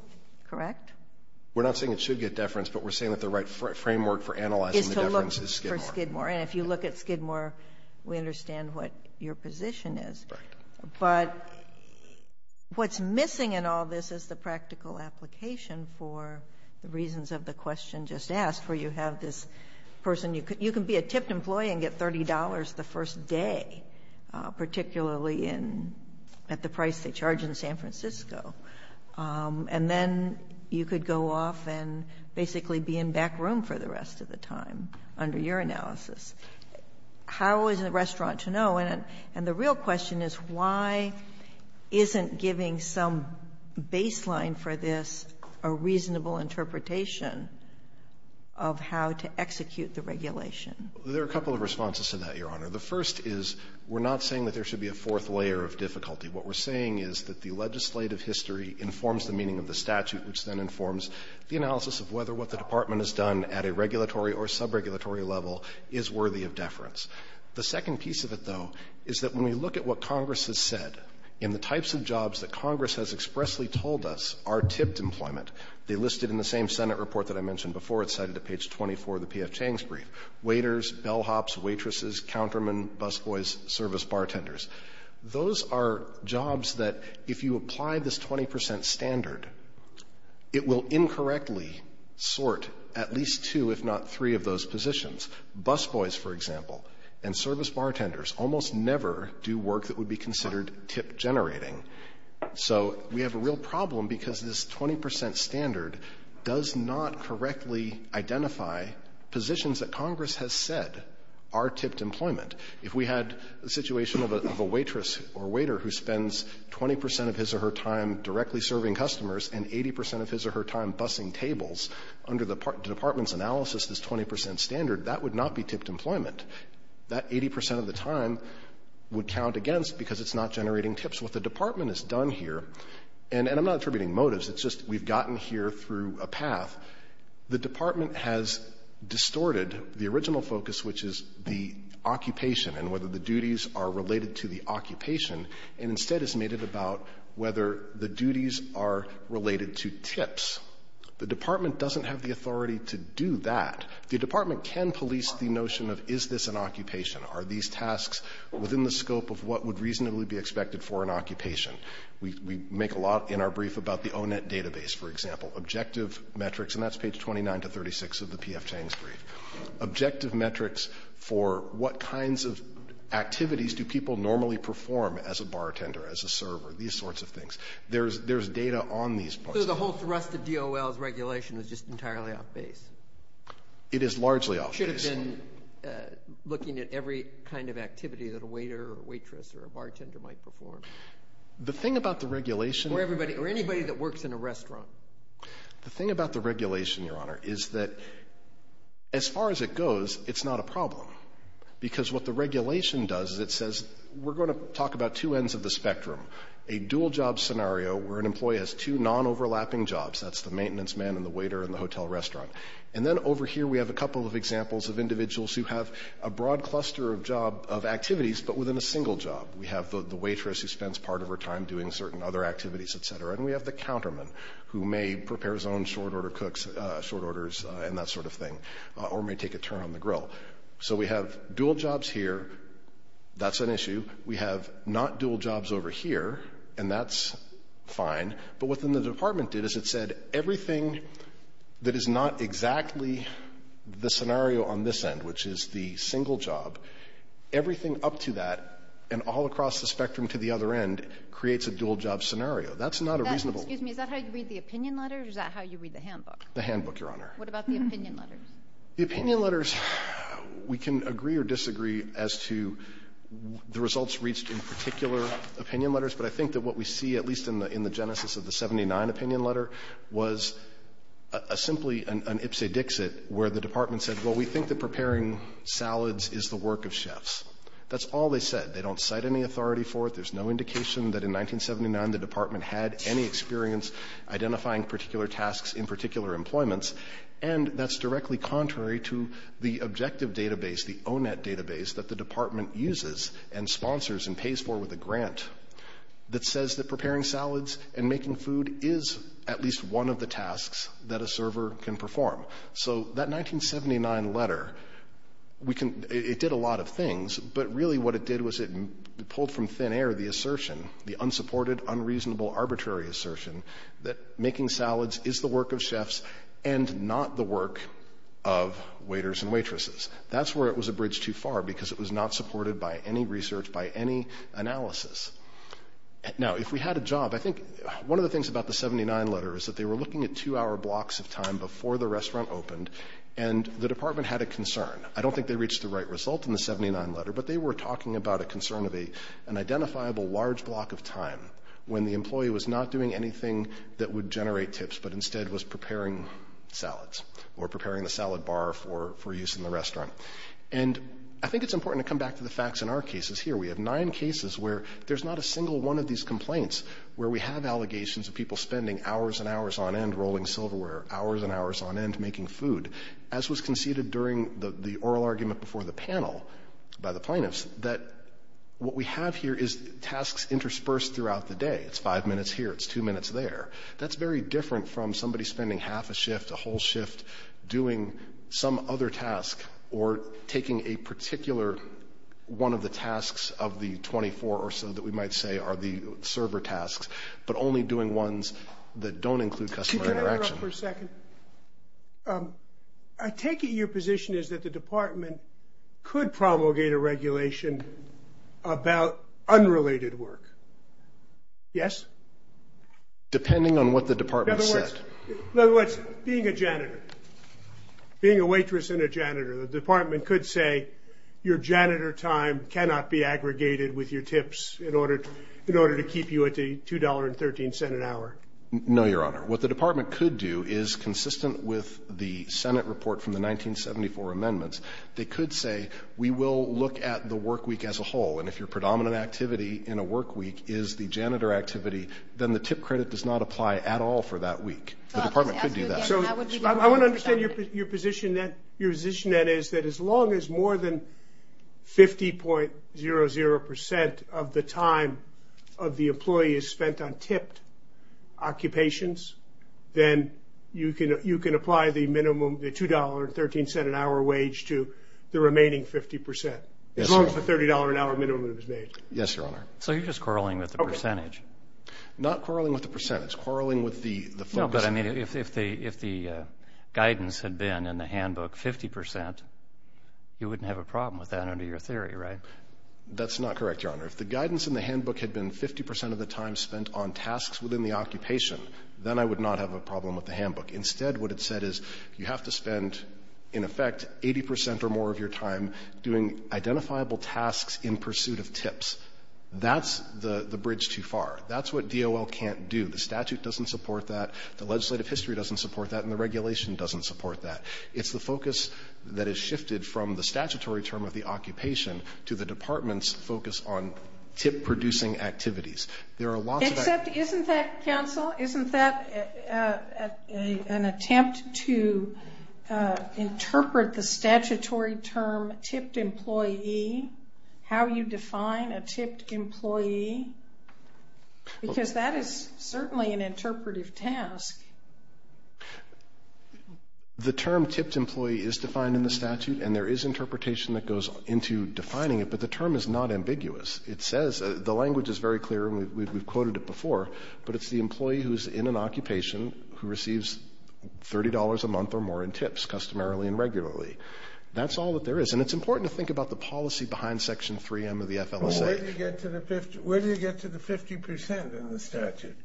correct? We're not saying it should get deference, but we're saying that the right framework for analyzing the deference is Skidmore. Is to look for Skidmore. And if you look at Skidmore, we understand what your position is. Correct. But what's missing in all this is the practical application for the reasons of the question just asked, where you have this person — you can be a tipped employee and get $30 the first day, particularly in — at the price they charge in San Francisco, and then you could go off and basically be in back room for the rest of the time under your analysis. How is the restaurant to know? And the real question is why isn't giving some baseline for this a reasonable interpretation of how to execute the regulation? There are a couple of responses to that, Your Honor. The first is we're not saying that there should be a fourth layer of difficulty. What we're saying is that the legislative history informs the meaning of the statute, which then informs the analysis of whether what the Department has done at a regulatory or subregulatory level is worthy of deference. The second piece of it, though, is that when we look at what Congress has said in the types of jobs that Congress has expressly told us are tipped employment, they listed in the same Senate report that I mentioned before. It's cited at page 24 of the P.F. Chang's brief. Waiters, bellhops, waitresses, countermen, busboys, service bartenders. Those are jobs that if you apply this 20 percent standard, it will incorrectly sort at least two, if not three, of those positions. Busboys, for example, and service bartenders almost never do work that would be considered tip generating. So we have a real problem because this 20 percent standard does not correctly identify positions that Congress has said are tipped employment. If we had a situation of a waitress or waiter who spends 20 percent of his or her time directly serving customers and 80 percent of his or her time bussing tables under the Department's analysis, this 20 percent standard, that would not be tipped employment. That 80 percent of the time would count against because it's not generating tips. What the Department has done here, and I'm not attributing motives. It's just we've gotten here through a path. The Department has distorted the original focus, which is the occupation and whether the duties are related to the occupation, and instead has made it about whether the duties are related to tips. The Department doesn't have the authority to do that. The Department can police the notion of is this an occupation, are these tasks within the scope of what would reasonably be expected for an occupation. We make a lot in our brief about the O-Net database, for example. Objective metrics, and that's page 29 to 36 of the P.F. Chang's brief. Objective metrics for what kinds of activities do people normally perform as a bartender, as a server, these sorts of things. There's data on these parts. So the whole thrust of DOL's regulation is just entirely off base? It is largely off base. Should have been looking at every kind of activity that a waiter or a waitress or a bartender might perform. The thing about the regulation. Or anybody that works in a restaurant. The thing about the regulation, Your Honor, is that as far as it goes, it's not a problem. Because what the regulation does is it says, we're going to talk about two ends of the spectrum. A dual job scenario where an employee has two non-overlapping jobs, that's the maintenance man and the waiter in the hotel restaurant. And then over here we have a couple of examples of individuals who have a broad cluster of job, of activities, but within a single job. We have the waitress who spends part of her time doing certain other activities, et cetera. And we have the counterman who may prepare his own short order cooks, short orders, and that sort of thing. Or may take a turn on the grill. So we have dual jobs here. That's an issue. We have not dual jobs over here. And that's fine. But what then the Department did is it said, everything that is not exactly the scenario on this end, which is the single job, everything up to that and all across the spectrum to the other end creates a dual job scenario. That's not a reasonable ---- Kagan. Is that how you read the opinion letter or is that how you read the handbook? The handbook, Your Honor. What about the opinion letters? The opinion letters, we can agree or disagree as to the results reached in particular opinion letters. But I think that what we see, at least in the genesis of the 79 opinion letter, was simply an ipsa dixit where the Department said, well, we think that preparing salads is the work of chefs. That's all they said. They don't cite any authority for it. There's no indication that in 1979 the Department had any experience identifying particular tasks in particular employments. And that's directly contrary to the objective database, the ONET database that the Department uses and sponsors and pays for with a grant that says that preparing salads and making food is at least one of the tasks that a server can perform. So that 1979 letter, it did a lot of things, but really what it did was it pulled from thin air the assertion, the unsupported, unreasonable, arbitrary assertion that making salads is the work of chefs and not the work of waiters and waitresses. That's where it was a bridge too far because it was not supported by any research, by any analysis. Now, if we had a job, I think one of the things about the 79 letter is that they were looking at two-hour blocks of time before the restaurant opened and the Department had a concern. I don't think they reached the right result in the 79 letter, but they were talking about a concern of an identifiable large block of time when the employee was not doing anything that would generate tips but instead was preparing salads or preparing the salad bar for use in the restaurant. And I think it's important to come back to the facts in our cases here. We have nine cases where there's not a single one of these complaints where we have allegations of people spending hours and hours on end rolling silverware, hours and hours on end making food, as was conceded during the oral argument before the panel by the plaintiffs, that what we have here is tasks interspersed throughout the day. It's five minutes here. It's two minutes there. That's very different from somebody spending half a shift, a whole shift doing some other task or taking a particular one of the tasks of the 24 or so that we might say are the server tasks, but only doing ones that don't include customer interaction. Could I interrupt for a second? I take it your position is that the Department could promulgate a regulation about unrelated work. Yes? Depending on what the Department said. In other words, being a janitor, being a waitress and a janitor, the Department could say your janitor time cannot be aggregated with your tips in order to keep you at the $2.13 an hour. No, Your Honor. What the Department could do is, consistent with the Senate report from the 1974 amendments, they could say we will look at the work week as a whole. And if your predominant activity in a work week is the janitor activity, then the tip credit does not apply at all for that week. The Department could do that. I want to understand your position. Your position is that as long as more than 50.00% of the time of the employee is spent on tipped occupations, then you can apply the $2.13 an hour wage to the remaining 50%. As long as the $30 an hour minimum is made. Yes, Your Honor. So you're just quarreling with the percentage? Not quarreling with the percentage. It's quarreling with the focus. No, but I mean if the guidance had been in the handbook 50%, you wouldn't have a problem with that under your theory, right? That's not correct, Your Honor. If the guidance in the handbook had been 50% of the time spent on tasks within the occupation, then I would not have a problem with the handbook. Instead, what it said is you have to spend, in effect, 80% or more of your time doing identifiable tasks in pursuit of tips. That's the bridge too far. That's what DOL can't do. The statute doesn't support that. The legislative history doesn't support that. And the regulation doesn't support that. It's the focus that has shifted from the statutory term of the occupation to the department's focus on tip-producing activities. Except, isn't that, counsel, isn't that an attempt to interpret the statutory term tipped employee, how you define a tipped employee? Because that is certainly an interpretive task. The term tipped employee is defined in the statute, and there is interpretation that goes into defining it, but the term is not ambiguous. It says, the language is very clear, and we've quoted it before, but it's the employee who's in an occupation who receives $30 a month or more in tips customarily and regularly. That's all that there is. And it's important to think about the policy behind Section 3M of the FLSA. Where do you get to the 50% in the statute?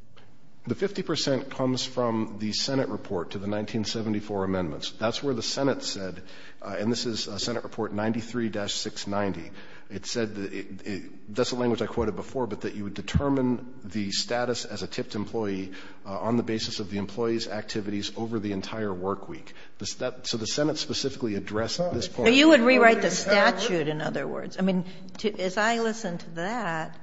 The 50% comes from the Senate report to the 1974 amendments. That's where the Senate said, and this is Senate Report 93-690, it said, that's a language I quoted before, but that you would determine the status as a tipped employee on the basis of the employee's activities over the entire work week. So the Senate specifically addressed this point. But you would rewrite the statute, in other words. I mean, as I listen to that,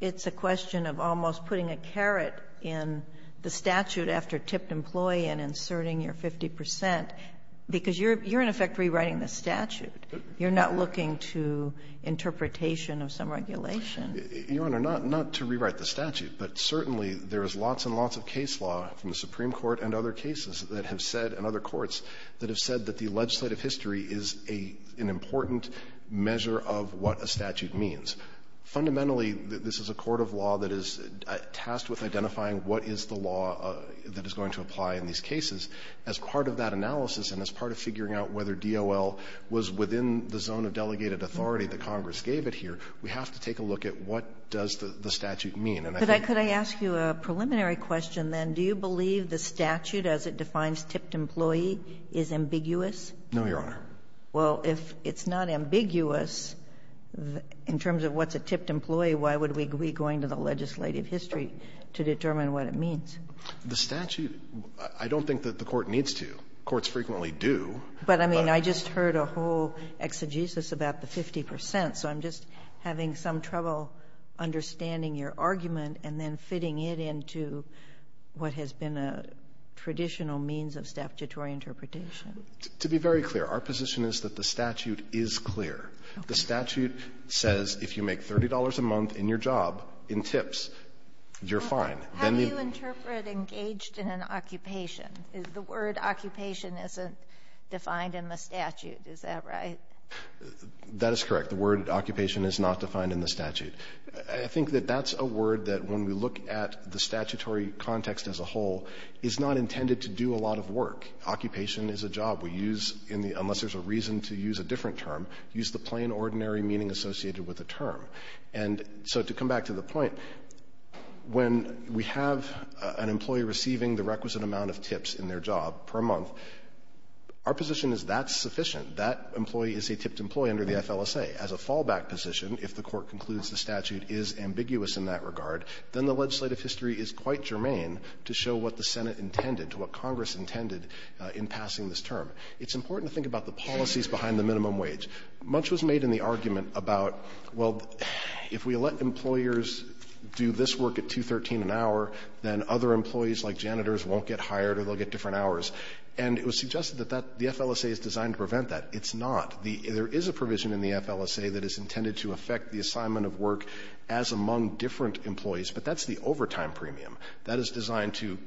it's a question of almost putting a carrot in the statute after tipped employee and inserting your 50%, because you're in effect rewriting the statute. You're not looking to interpretation of some regulation. Your Honor, not to rewrite the statute, but certainly there is lots and lots of case law from the Supreme Court and other cases that have said, and other courts that have said that the legislative history is an important measure of what a statute means. Fundamentally, this is a court of law that is tasked with identifying what is the law that is going to apply in these cases. As part of that analysis and as part of figuring out whether DOL was within the zone of delegated authority that Congress gave it here, we have to take a look at what does the statute mean. Could I ask you a preliminary question, then? Do you believe the statute as it defines tipped employee is ambiguous? No, Your Honor. Well, if it's not ambiguous in terms of what's a tipped employee, why would we be going to the legislative history to determine what it means? The statute, I don't think that the court needs to. Courts frequently do. But I mean, I just heard a whole exegesis about the 50 percent. So I'm just having some trouble understanding your argument and then fitting it into what has been a traditional means of statutory interpretation. To be very clear, our position is that the statute is clear. The statute says if you make $30 a month in your job in tips, you're fine. How do you interpret engaged in an occupation? The word occupation isn't defined in the statute. Is that right? That is correct. The word occupation is not defined in the statute. I think that that's a word that when we look at the statutory context as a whole, is not intended to do a lot of work. Occupation is a job. We use in the unless there's a reason to use a different term, use the plain ordinary meaning associated with a term. And so to come back to the point, when we have an employee receiving the requisite position, that employee is a tipped employee under the FLSA. As a fallback position, if the Court concludes the statute is ambiguous in that regard, then the legislative history is quite germane to show what the Senate intended, to what Congress intended in passing this term. It's important to think about the policies behind the minimum wage. Much was made in the argument about, well, if we let employers do this work at 2.13 an hour, then other employees like janitors won't get hired or they'll get different hours. And it was suggested that the FLSA is designed to prevent that. It's not. There is a provision in the FLSA that is intended to affect the assignment of work as among different employees, but that's the overtime premium. That is designed to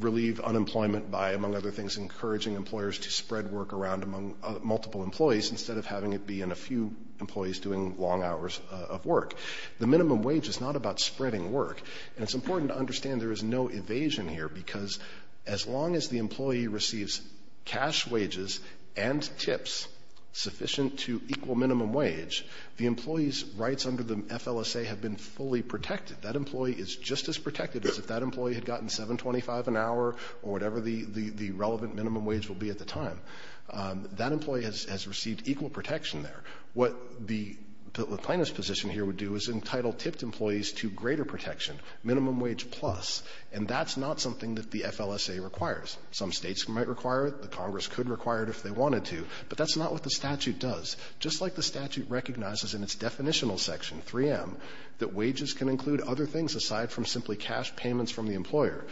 relieve unemployment by, among other things, encouraging employers to spread work around among multiple employees instead of having it be in a few employees doing long hours of work. The minimum wage is not about spreading work. And it's important to understand there is no evasion here, because as long as the employee receives cash wages and tips sufficient to equal minimum wage, the employee's rights under the FLSA have been fully protected. That employee is just as protected as if that employee had gotten $7.25 an hour or whatever the relevant minimum wage will be at the time. That employee has received equal protection there. What the plaintiff's position here would do is entitle tipped employees to greater protection, minimum wage plus, and that's not something that the FLSA requires. Some States might require it. The Congress could require it if they wanted to. But that's not what the statute does. Just like the statute recognizes in its definitional section, 3M, that wages can include other things aside from simply cash payments from the employer,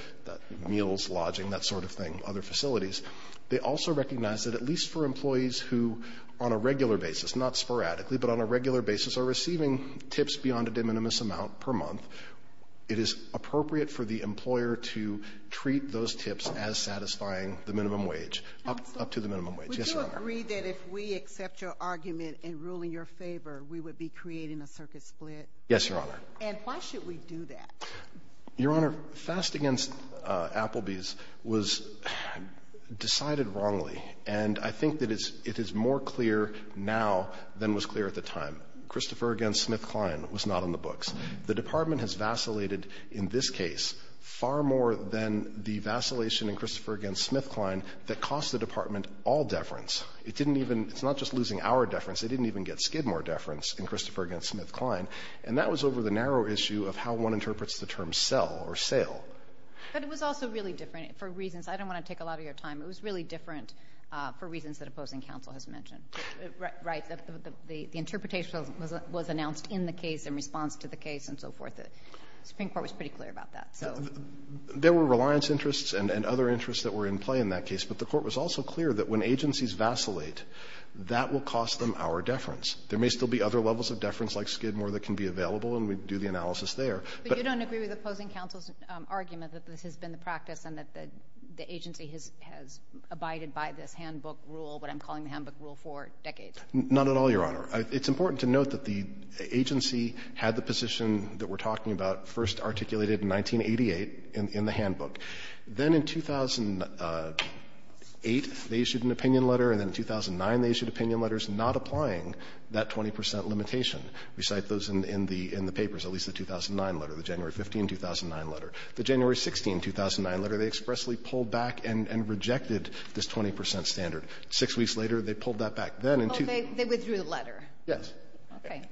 meals, lodging, that sort of thing, other facilities, they also recognize that at least for employees who on a regular basis, not sporadically, but on a regular basis are receiving tips beyond a de minimis amount per month, it is appropriate for the employer to treat those tips as satisfying the minimum wage, up to the minimum wage. Yes, Your Honor. Sotomayor, would you agree that if we accept your argument in ruling your favor, we would be creating a circuit split? Yes, Your Honor. And why should we do that? Your Honor, Fast v. Applebee's was decided wrongly. And I think that it is more clear now than was clear at the time. Christopher v. SmithKline was not on the books. The Department has vacillated in this case far more than the vacillation in Christopher v. SmithKline that cost the Department all deference. It didn't even – it's not just losing our deference. They didn't even get Skidmore deference in Christopher v. SmithKline. And that was over the narrow issue of how one interprets the term sell or sale. But it was also really different for reasons – I don't want to take a lot of your time – it was really different for reasons that opposing counsel has mentioned. Right. The interpretation was announced in the case in response to the case and so forth. The Supreme Court was pretty clear about that. There were reliance interests and other interests that were in play in that case. But the Court was also clear that when agencies vacillate, that will cost them our deference. There may still be other levels of deference like Skidmore that can be available, and we do the analysis there. But you don't agree with opposing counsel's argument that this has been the practice rule for decades. Not at all, Your Honor. It's important to note that the agency had the position that we're talking about first articulated in 1988 in the handbook. Then in 2008, they issued an opinion letter, and then in 2009, they issued opinion letters not applying that 20 percent limitation. We cite those in the papers, at least the 2009 letter, the January 15, 2009 letter. The January 16, 2009 letter, they expressly pulled back and rejected this 20 percent standard. Six weeks later, they pulled that back then. Oh, they withdrew the letter. Yes. Okay.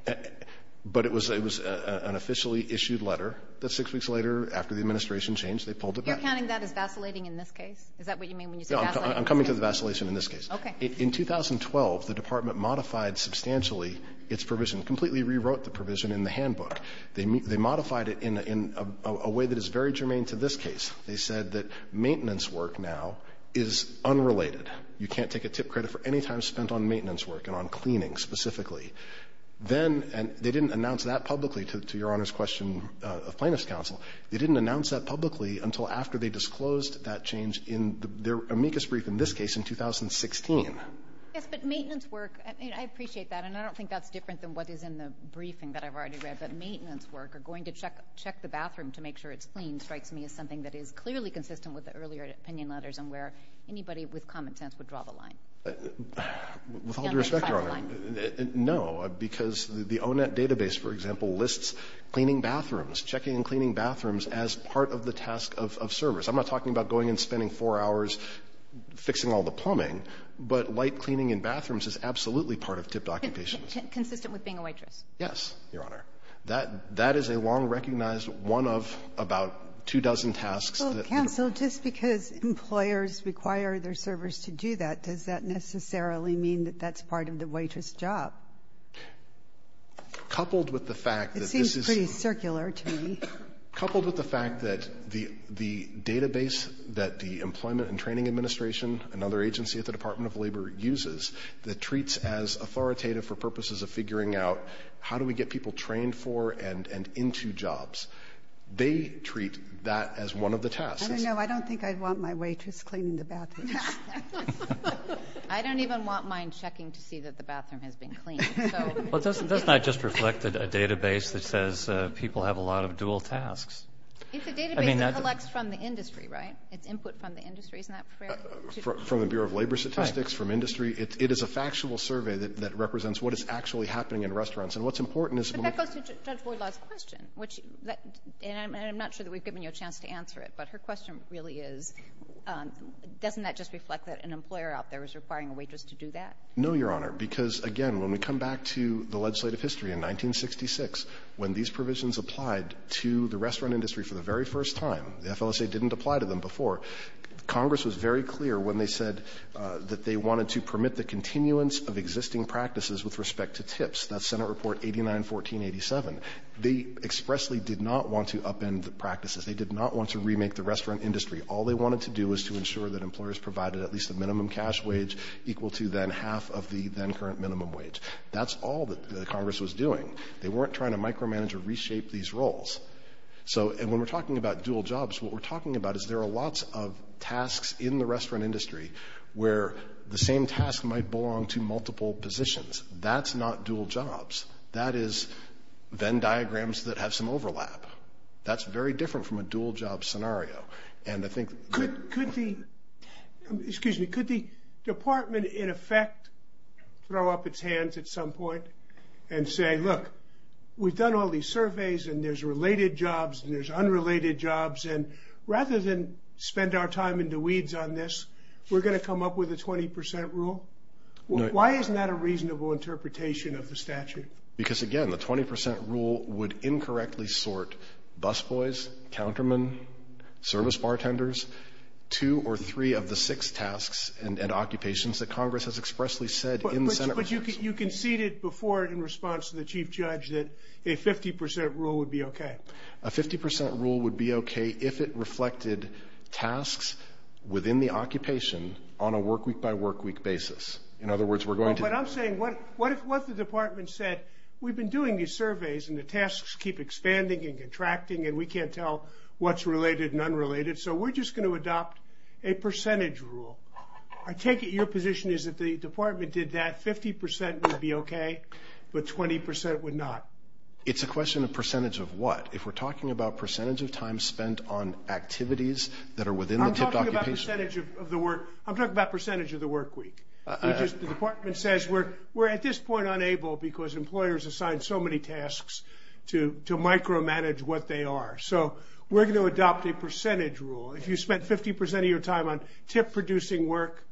But it was an officially issued letter that six weeks later, after the administration changed, they pulled it back. You're counting that as vacillating in this case? Is that what you mean when you say vacillating? No, I'm coming to the vacillation in this case. Okay. In 2012, the Department modified substantially its provision, completely rewrote the provision in the handbook. They modified it in a way that is very germane to this case. They said that maintenance work now is unrelated. You can't take a tip credit for any time spent on maintenance work and on cleaning specifically. Then they didn't announce that publicly, to Your Honor's question of Plaintiff's counsel. They didn't announce that publicly until after they disclosed that change in their amicus brief in this case in 2016. Yes, but maintenance work, I mean, I appreciate that, and I don't think that's different than what is in the briefing that I've already read, but maintenance work or going to check the bathroom to make sure it's clean strikes me as something that is clearly consistent with the earlier opinion letters and where anybody with common sense would draw the line. With all due respect, Your Honor, no, because the O-Net database, for example, lists cleaning bathrooms, checking and cleaning bathrooms as part of the task of servers. I'm not talking about going and spending four hours fixing all the plumbing, but light cleaning in bathrooms is absolutely part of tipped occupations. Consistent with being a waitress. Yes, Your Honor. That is a long-recognized one of about two dozen tasks. Well, counsel, just because employers require their servers to do that, does that necessarily mean that that's part of the waitress' job? Coupled with the fact that this is the — It seems pretty circular to me. Coupled with the fact that the database that the Employment and Training Administration, another agency at the Department of Labor, uses that treats as authoritative for purposes of figuring out how do we get people trained for and into jobs. They treat that as one of the tasks. I don't know. I don't think I'd want my waitress cleaning the bathrooms. I don't even want mine checking to see that the bathroom has been cleaned. Well, doesn't that just reflect a database that says people have a lot of dual tasks? It's a database that collects from the industry, right? It's input from the industry. Isn't that fair? From the Bureau of Labor Statistics, from industry? It is a factual survey that represents what is actually happening in restaurants. And what's important is when we — But that goes to Judge Boydlaw's question, which — and I'm not sure that we've given you a chance to answer it, but her question really is, doesn't that just reflect that an employer out there is requiring a waitress to do that? No, Your Honor, because, again, when we come back to the legislative history in 1966, when these provisions applied to the restaurant industry for the very first time, the FLSA didn't apply to them before. Congress was very clear when they said that they wanted to permit the continuance of existing practices with respect to TIPS. That's Senate Report 89-1487. They expressly did not want to upend the practices. They did not want to remake the restaurant industry. All they wanted to do was to ensure that employers provided at least a minimum cash wage equal to then half of the then-current minimum wage. That's all that Congress was doing. They weren't trying to micromanage or reshape these roles. So — and when we're talking about dual jobs, what we're talking about is there are lots of tasks in the restaurant industry where the same task might belong to multiple positions. That's not dual jobs. That is Venn diagrams that have some overlap. That's very different from a dual-job scenario. And I think — Could the — excuse me. Could the department, in effect, throw up its hands at some point and say, look, we've done all these surveys and there's related jobs and there's unrelated jobs. And rather than spend our time in the weeds on this, we're going to come up with a 20 percent rule? Why isn't that a reasonable interpretation of the statute? Because, again, the 20 percent rule would incorrectly sort busboys, countermen, service bartenders, two or three of the six tasks and occupations that Congress has expressly said in Senate — But you conceded before in response to the chief judge that a 50 percent rule would be OK. A 50 percent rule would be OK if it reflected tasks within the occupation on a workweek-by-workweek basis. In other words, we're going to — But I'm saying what the department said, we've been doing these surveys and the tasks keep expanding and contracting and we can't tell what's related and unrelated, so we're just going to adopt a percentage rule. I take it your position is that the department did that, 50 percent would be OK, but 20 percent would not. It's a question of percentage of what? If we're talking about percentage of time spent on activities that are within the tipped occupation — I'm talking about percentage of the work — I'm talking about percentage of the workweek. The department says we're at this point unable because employers assign so many tasks to micromanage what they are. So we're going to adopt a percentage rule. If you spent 50 percent of your time on tip-producing work,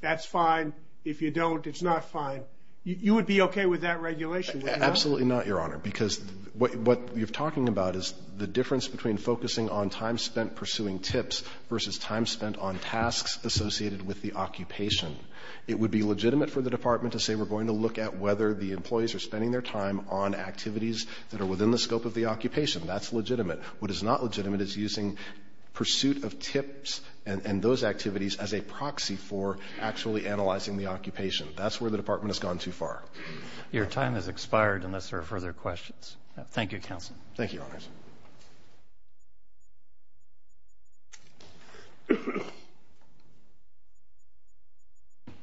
that's fine. If you don't, it's not fine. You would be OK with that regulation, would you not? Absolutely not, Your Honor, because what you're talking about is the difference between focusing on time spent pursuing tips versus time spent on tasks associated with the occupation. It would be legitimate for the department to say we're going to look at whether the employees are spending their time on activities that are within the scope of the occupation. That's legitimate. What is not legitimate is using pursuit of tips and those activities as a proxy for actually analyzing the occupation. That's where the department has gone too far. Your time has expired unless there are further questions. Thank you, Counsel. Thank you, Your Honors.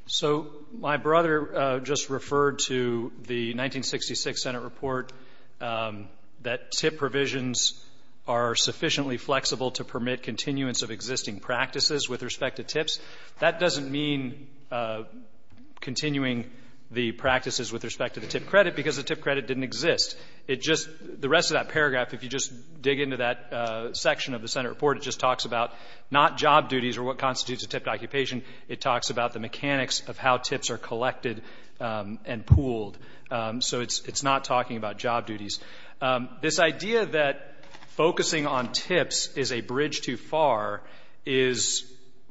So my brother just referred to the 1966 Senate report that tip provisions are sufficiently flexible to permit continuance of existing practices with respect to tips. That doesn't mean continuing the practices with respect to the tip credit because the tip credit didn't exist. It just the rest of that paragraph, if you just dig into that section of the Senate report, it just talks about not job duties or what constitutes a tipped occupation. It talks about the mechanics of how tips are collected and pooled. So it's not talking about job duties. This idea that focusing on tips is a bridge too far is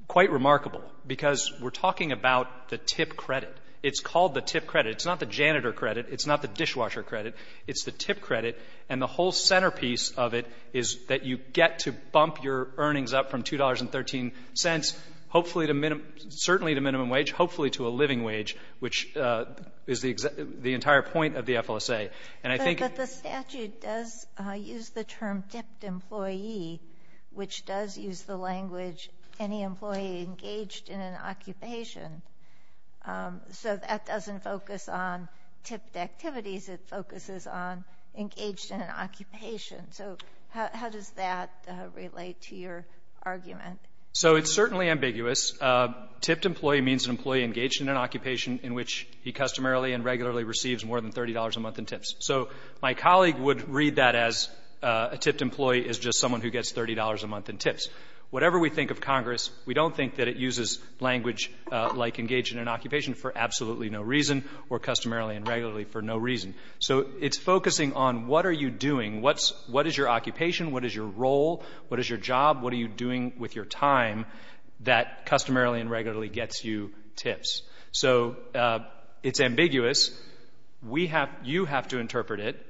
quite remarkable because we're talking about the tip credit. It's called the tip credit. It's not the janitor credit. It's not the dishwasher credit. It's the tip credit. And the whole centerpiece of it is that you get to bump your earnings up from $2.13, hopefully to minimum — certainly to minimum wage, hopefully to a living wage, which is the entire point of the FLSA. And I think — But the statute does use the term tipped employee, which does use the language any employee engaged in an occupation. So that doesn't focus on tipped activities. It focuses on engaged in an occupation. So how does that relate to your argument? So it's certainly ambiguous. Tipped employee means an employee engaged in an occupation in which he customarily and regularly receives more than $30 a month in tips. So my colleague would read that as a tipped employee is just someone who gets $30 a month in tips. Whatever we think of Congress, we don't think that it uses language like engaged in an occupation for absolutely no reason or customarily and regularly for no reason. So it's focusing on what are you doing. What is your occupation? What is your role? What is your job? What are you doing with your time that customarily and regularly gets you tips? So it's ambiguous. We have — you have to interpret it.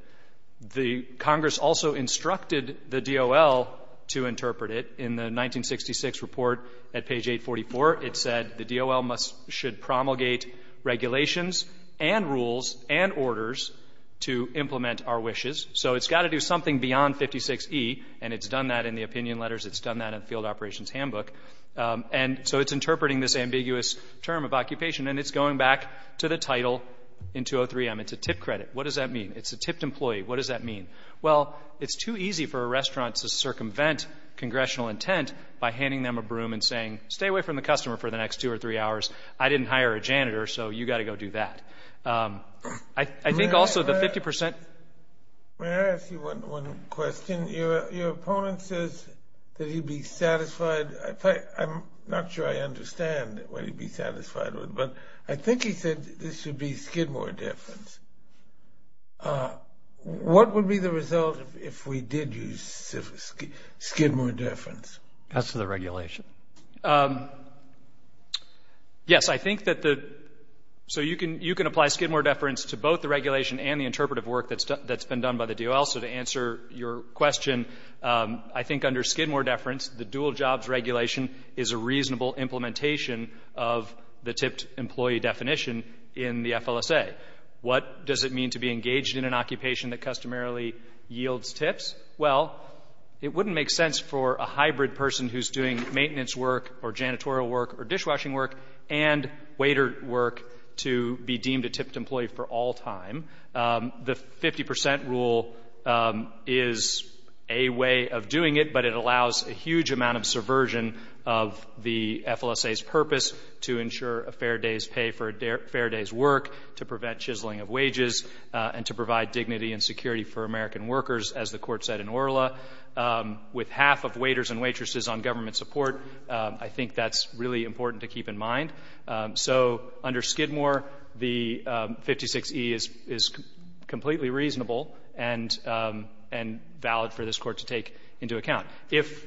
The Congress also instructed the DOL to interpret it. In the 1966 report at page 844, it said the DOL must — should promulgate regulations and rules and orders to implement our wishes. So it's got to do something beyond 56E. And it's done that in the opinion letters. It's done that in the Field Operations Handbook. And so it's interpreting this ambiguous term of occupation. And it's going back to the title in 203M. It's a tip credit. What does that mean? It's a tipped employee. What does that mean? Well, it's too easy for a restaurant to circumvent congressional intent by handing them a broom and saying, stay away from the customer for the next two or three hours. I didn't hire a janitor, so you've got to go do that. I think also the 50 percent — May I ask you one question? Your opponent says that he'd be satisfied. I'm not sure I understand what he'd be satisfied with. But I think he said this would be Skidmore deference. What would be the result if we did use Skidmore deference? As to the regulation? Yes, I think that the — so you can apply Skidmore deference to both the regulation and the interpretive work that's been done by the DOL. So to answer your question, I think under Skidmore deference, the dual jobs regulation is a reasonable implementation of the tipped employee definition in the FLSA. What does it mean to be engaged in an occupation that customarily yields tips? Well, it wouldn't make sense for a hybrid person who's doing maintenance work or janitorial work or dishwashing work and waiter work to be deemed a tipped employee for all time. The 50 percent rule is a way of doing it, but it allows a huge amount of subversion of the FLSA's purpose to ensure a fair day's pay for a fair day's work, to prevent chiseling of wages, and to provide dignity and security for American workers, as the Court said in Orla. With half of waiters and waitresses on government support, I think that's really important to keep in mind. So under Skidmore, the 56E is completely reasonable and valid for this Court to take into account. If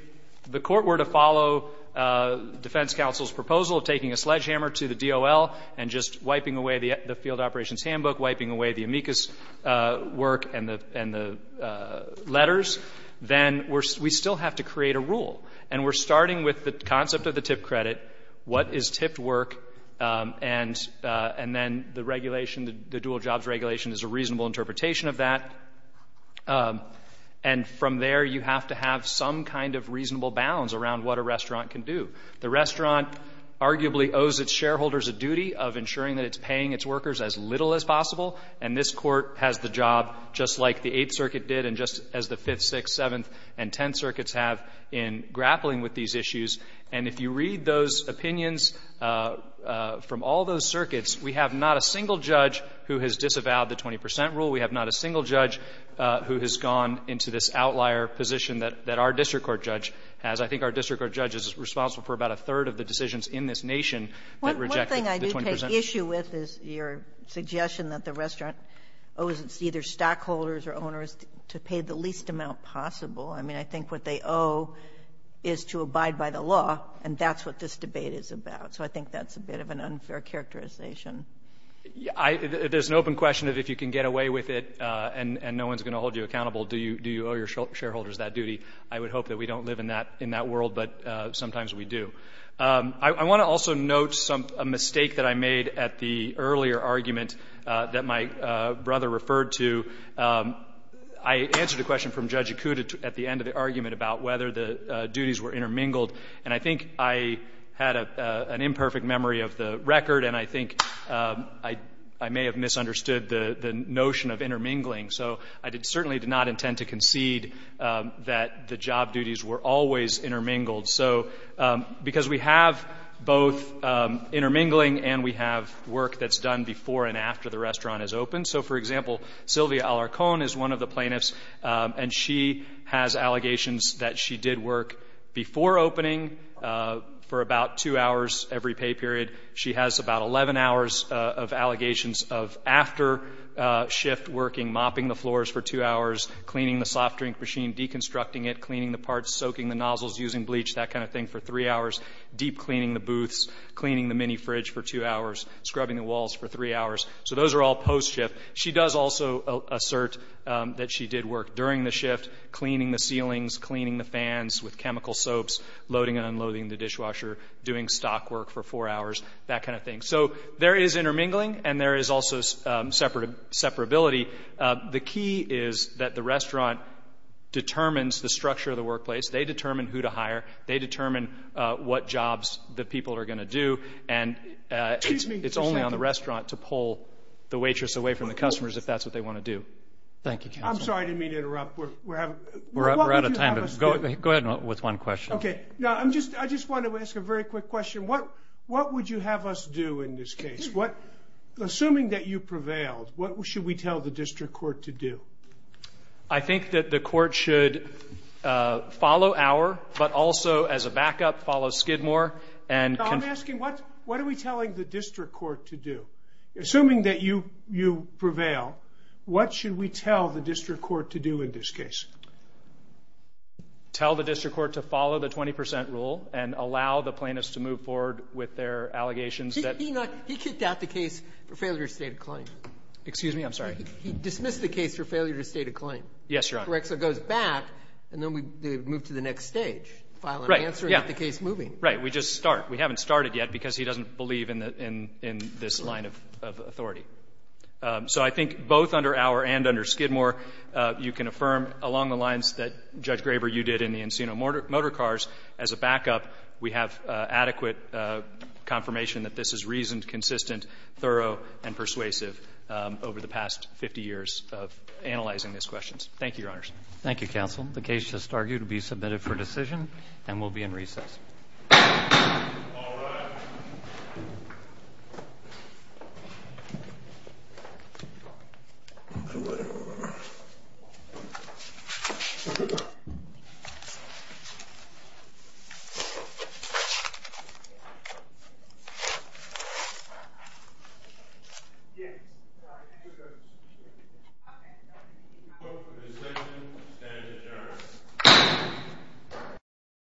the Court were to follow defense counsel's proposal of taking a sledgehammer to the DOL and just wiping away the field operations handbook, wiping away the amicus work and the letters, then we still have to create a rule. And we're starting with the concept of the tipped credit. What is tipped work? And then the regulation, the dual jobs regulation, is a reasonable interpretation of that. And from there, you have to have some kind of reasonable bounds around what a restaurant can do. The restaurant arguably owes its shareholders a duty of ensuring that it's paying its workers as little as possible. And this Court has the job, just like the Eighth Circuit did, and just as the Fifth, Sixth, Seventh, and Tenth Circuits have, in grappling with these issues. And if you read those opinions from all those circuits, we have not a single judge who has disavowed the 20 percent rule. We have not a single judge who has gone into this outlier position that our district court judge has. I think our district court judge is responsible for about a third of the decisions in this nation that reject the 20 percent rule. Sotomayor, what thing I do take issue with is your suggestion that the restaurant owes its either stockholders or owners to pay the least amount possible. I mean, I think what they owe is to abide by the law, and that's what this debate is about. So I think that's a bit of an unfair characterization. There's an open question of if you can get away with it and no one's going to hold you accountable, do you owe your shareholders that duty? I would hope that we don't live in that world, but sometimes we do. I want to also note a mistake that I made at the earlier argument that my brother referred to. I answered a question from Judge Ikuda at the end of the argument about whether the duties were intermingled, and I think I had an imperfect memory of the record, and I think I may have misunderstood the notion of intermingling. So I certainly did not intend to concede that the job duties were always intermingled, because we have both intermingling and we have work that's done before and after the restaurant is open. So, for example, Sylvia Alarcón is one of the plaintiffs, and she has allegations that she did work before opening for about two hours every pay period. She has about 11 hours of allegations of after shift working, mopping the floors for two hours, cleaning the soft drink machine, deconstructing it, cleaning the parts, soaking the nozzles, using bleach, that kind of thing, for three hours, deep cleaning the booths, cleaning the mini-fridge for two hours, scrubbing the walls for three hours. So those are all post-shift. She does also assert that she did work during the shift, cleaning the ceilings, cleaning the fans with chemical soaps, loading and unloading the dishwasher, doing stock work for four hours, that kind of thing. So there is intermingling, and there is also separability. The key is that the restaurant determines the structure of the workplace. They determine who to hire. They determine what jobs the people are going to do. And it's only on the restaurant to pull the waitress away from the customers if that's what they want to do. Thank you, counsel. I'm sorry I didn't mean to interrupt. We're out of time. Go ahead with one question. Okay. No, I just want to ask a very quick question. What would you have us do in this case? Assuming that you prevailed, what should we tell the district court to do? I think that the court should follow our, but also as a backup, follow Skidmore. I'm asking what are we telling the district court to do? Assuming that you prevail, what should we tell the district court to do in this case? Tell the district court to follow the 20% rule and allow the plaintiffs to move forward with their allegations. He kicked out the case for failure to state a claim. Excuse me? I'm sorry. He dismissed the case for failure to state a claim. Yes, Your Honor. Correct. So it goes back, and then we move to the next stage, file an answer and get the case moving. Right. We just start. We haven't started yet because he doesn't believe in this line of authority. So I think both under our and under Skidmore, you can affirm along the lines that Judge Graber, you did in the Encino Motorcars, as a backup, we have adequate confirmation that this is reasoned, consistent, thorough, and persuasive over the past 50 years of analyzing these questions. Thank you, Your Honors. Thank you, counsel. The case is argued to be submitted for decision and will be in recess. All rise.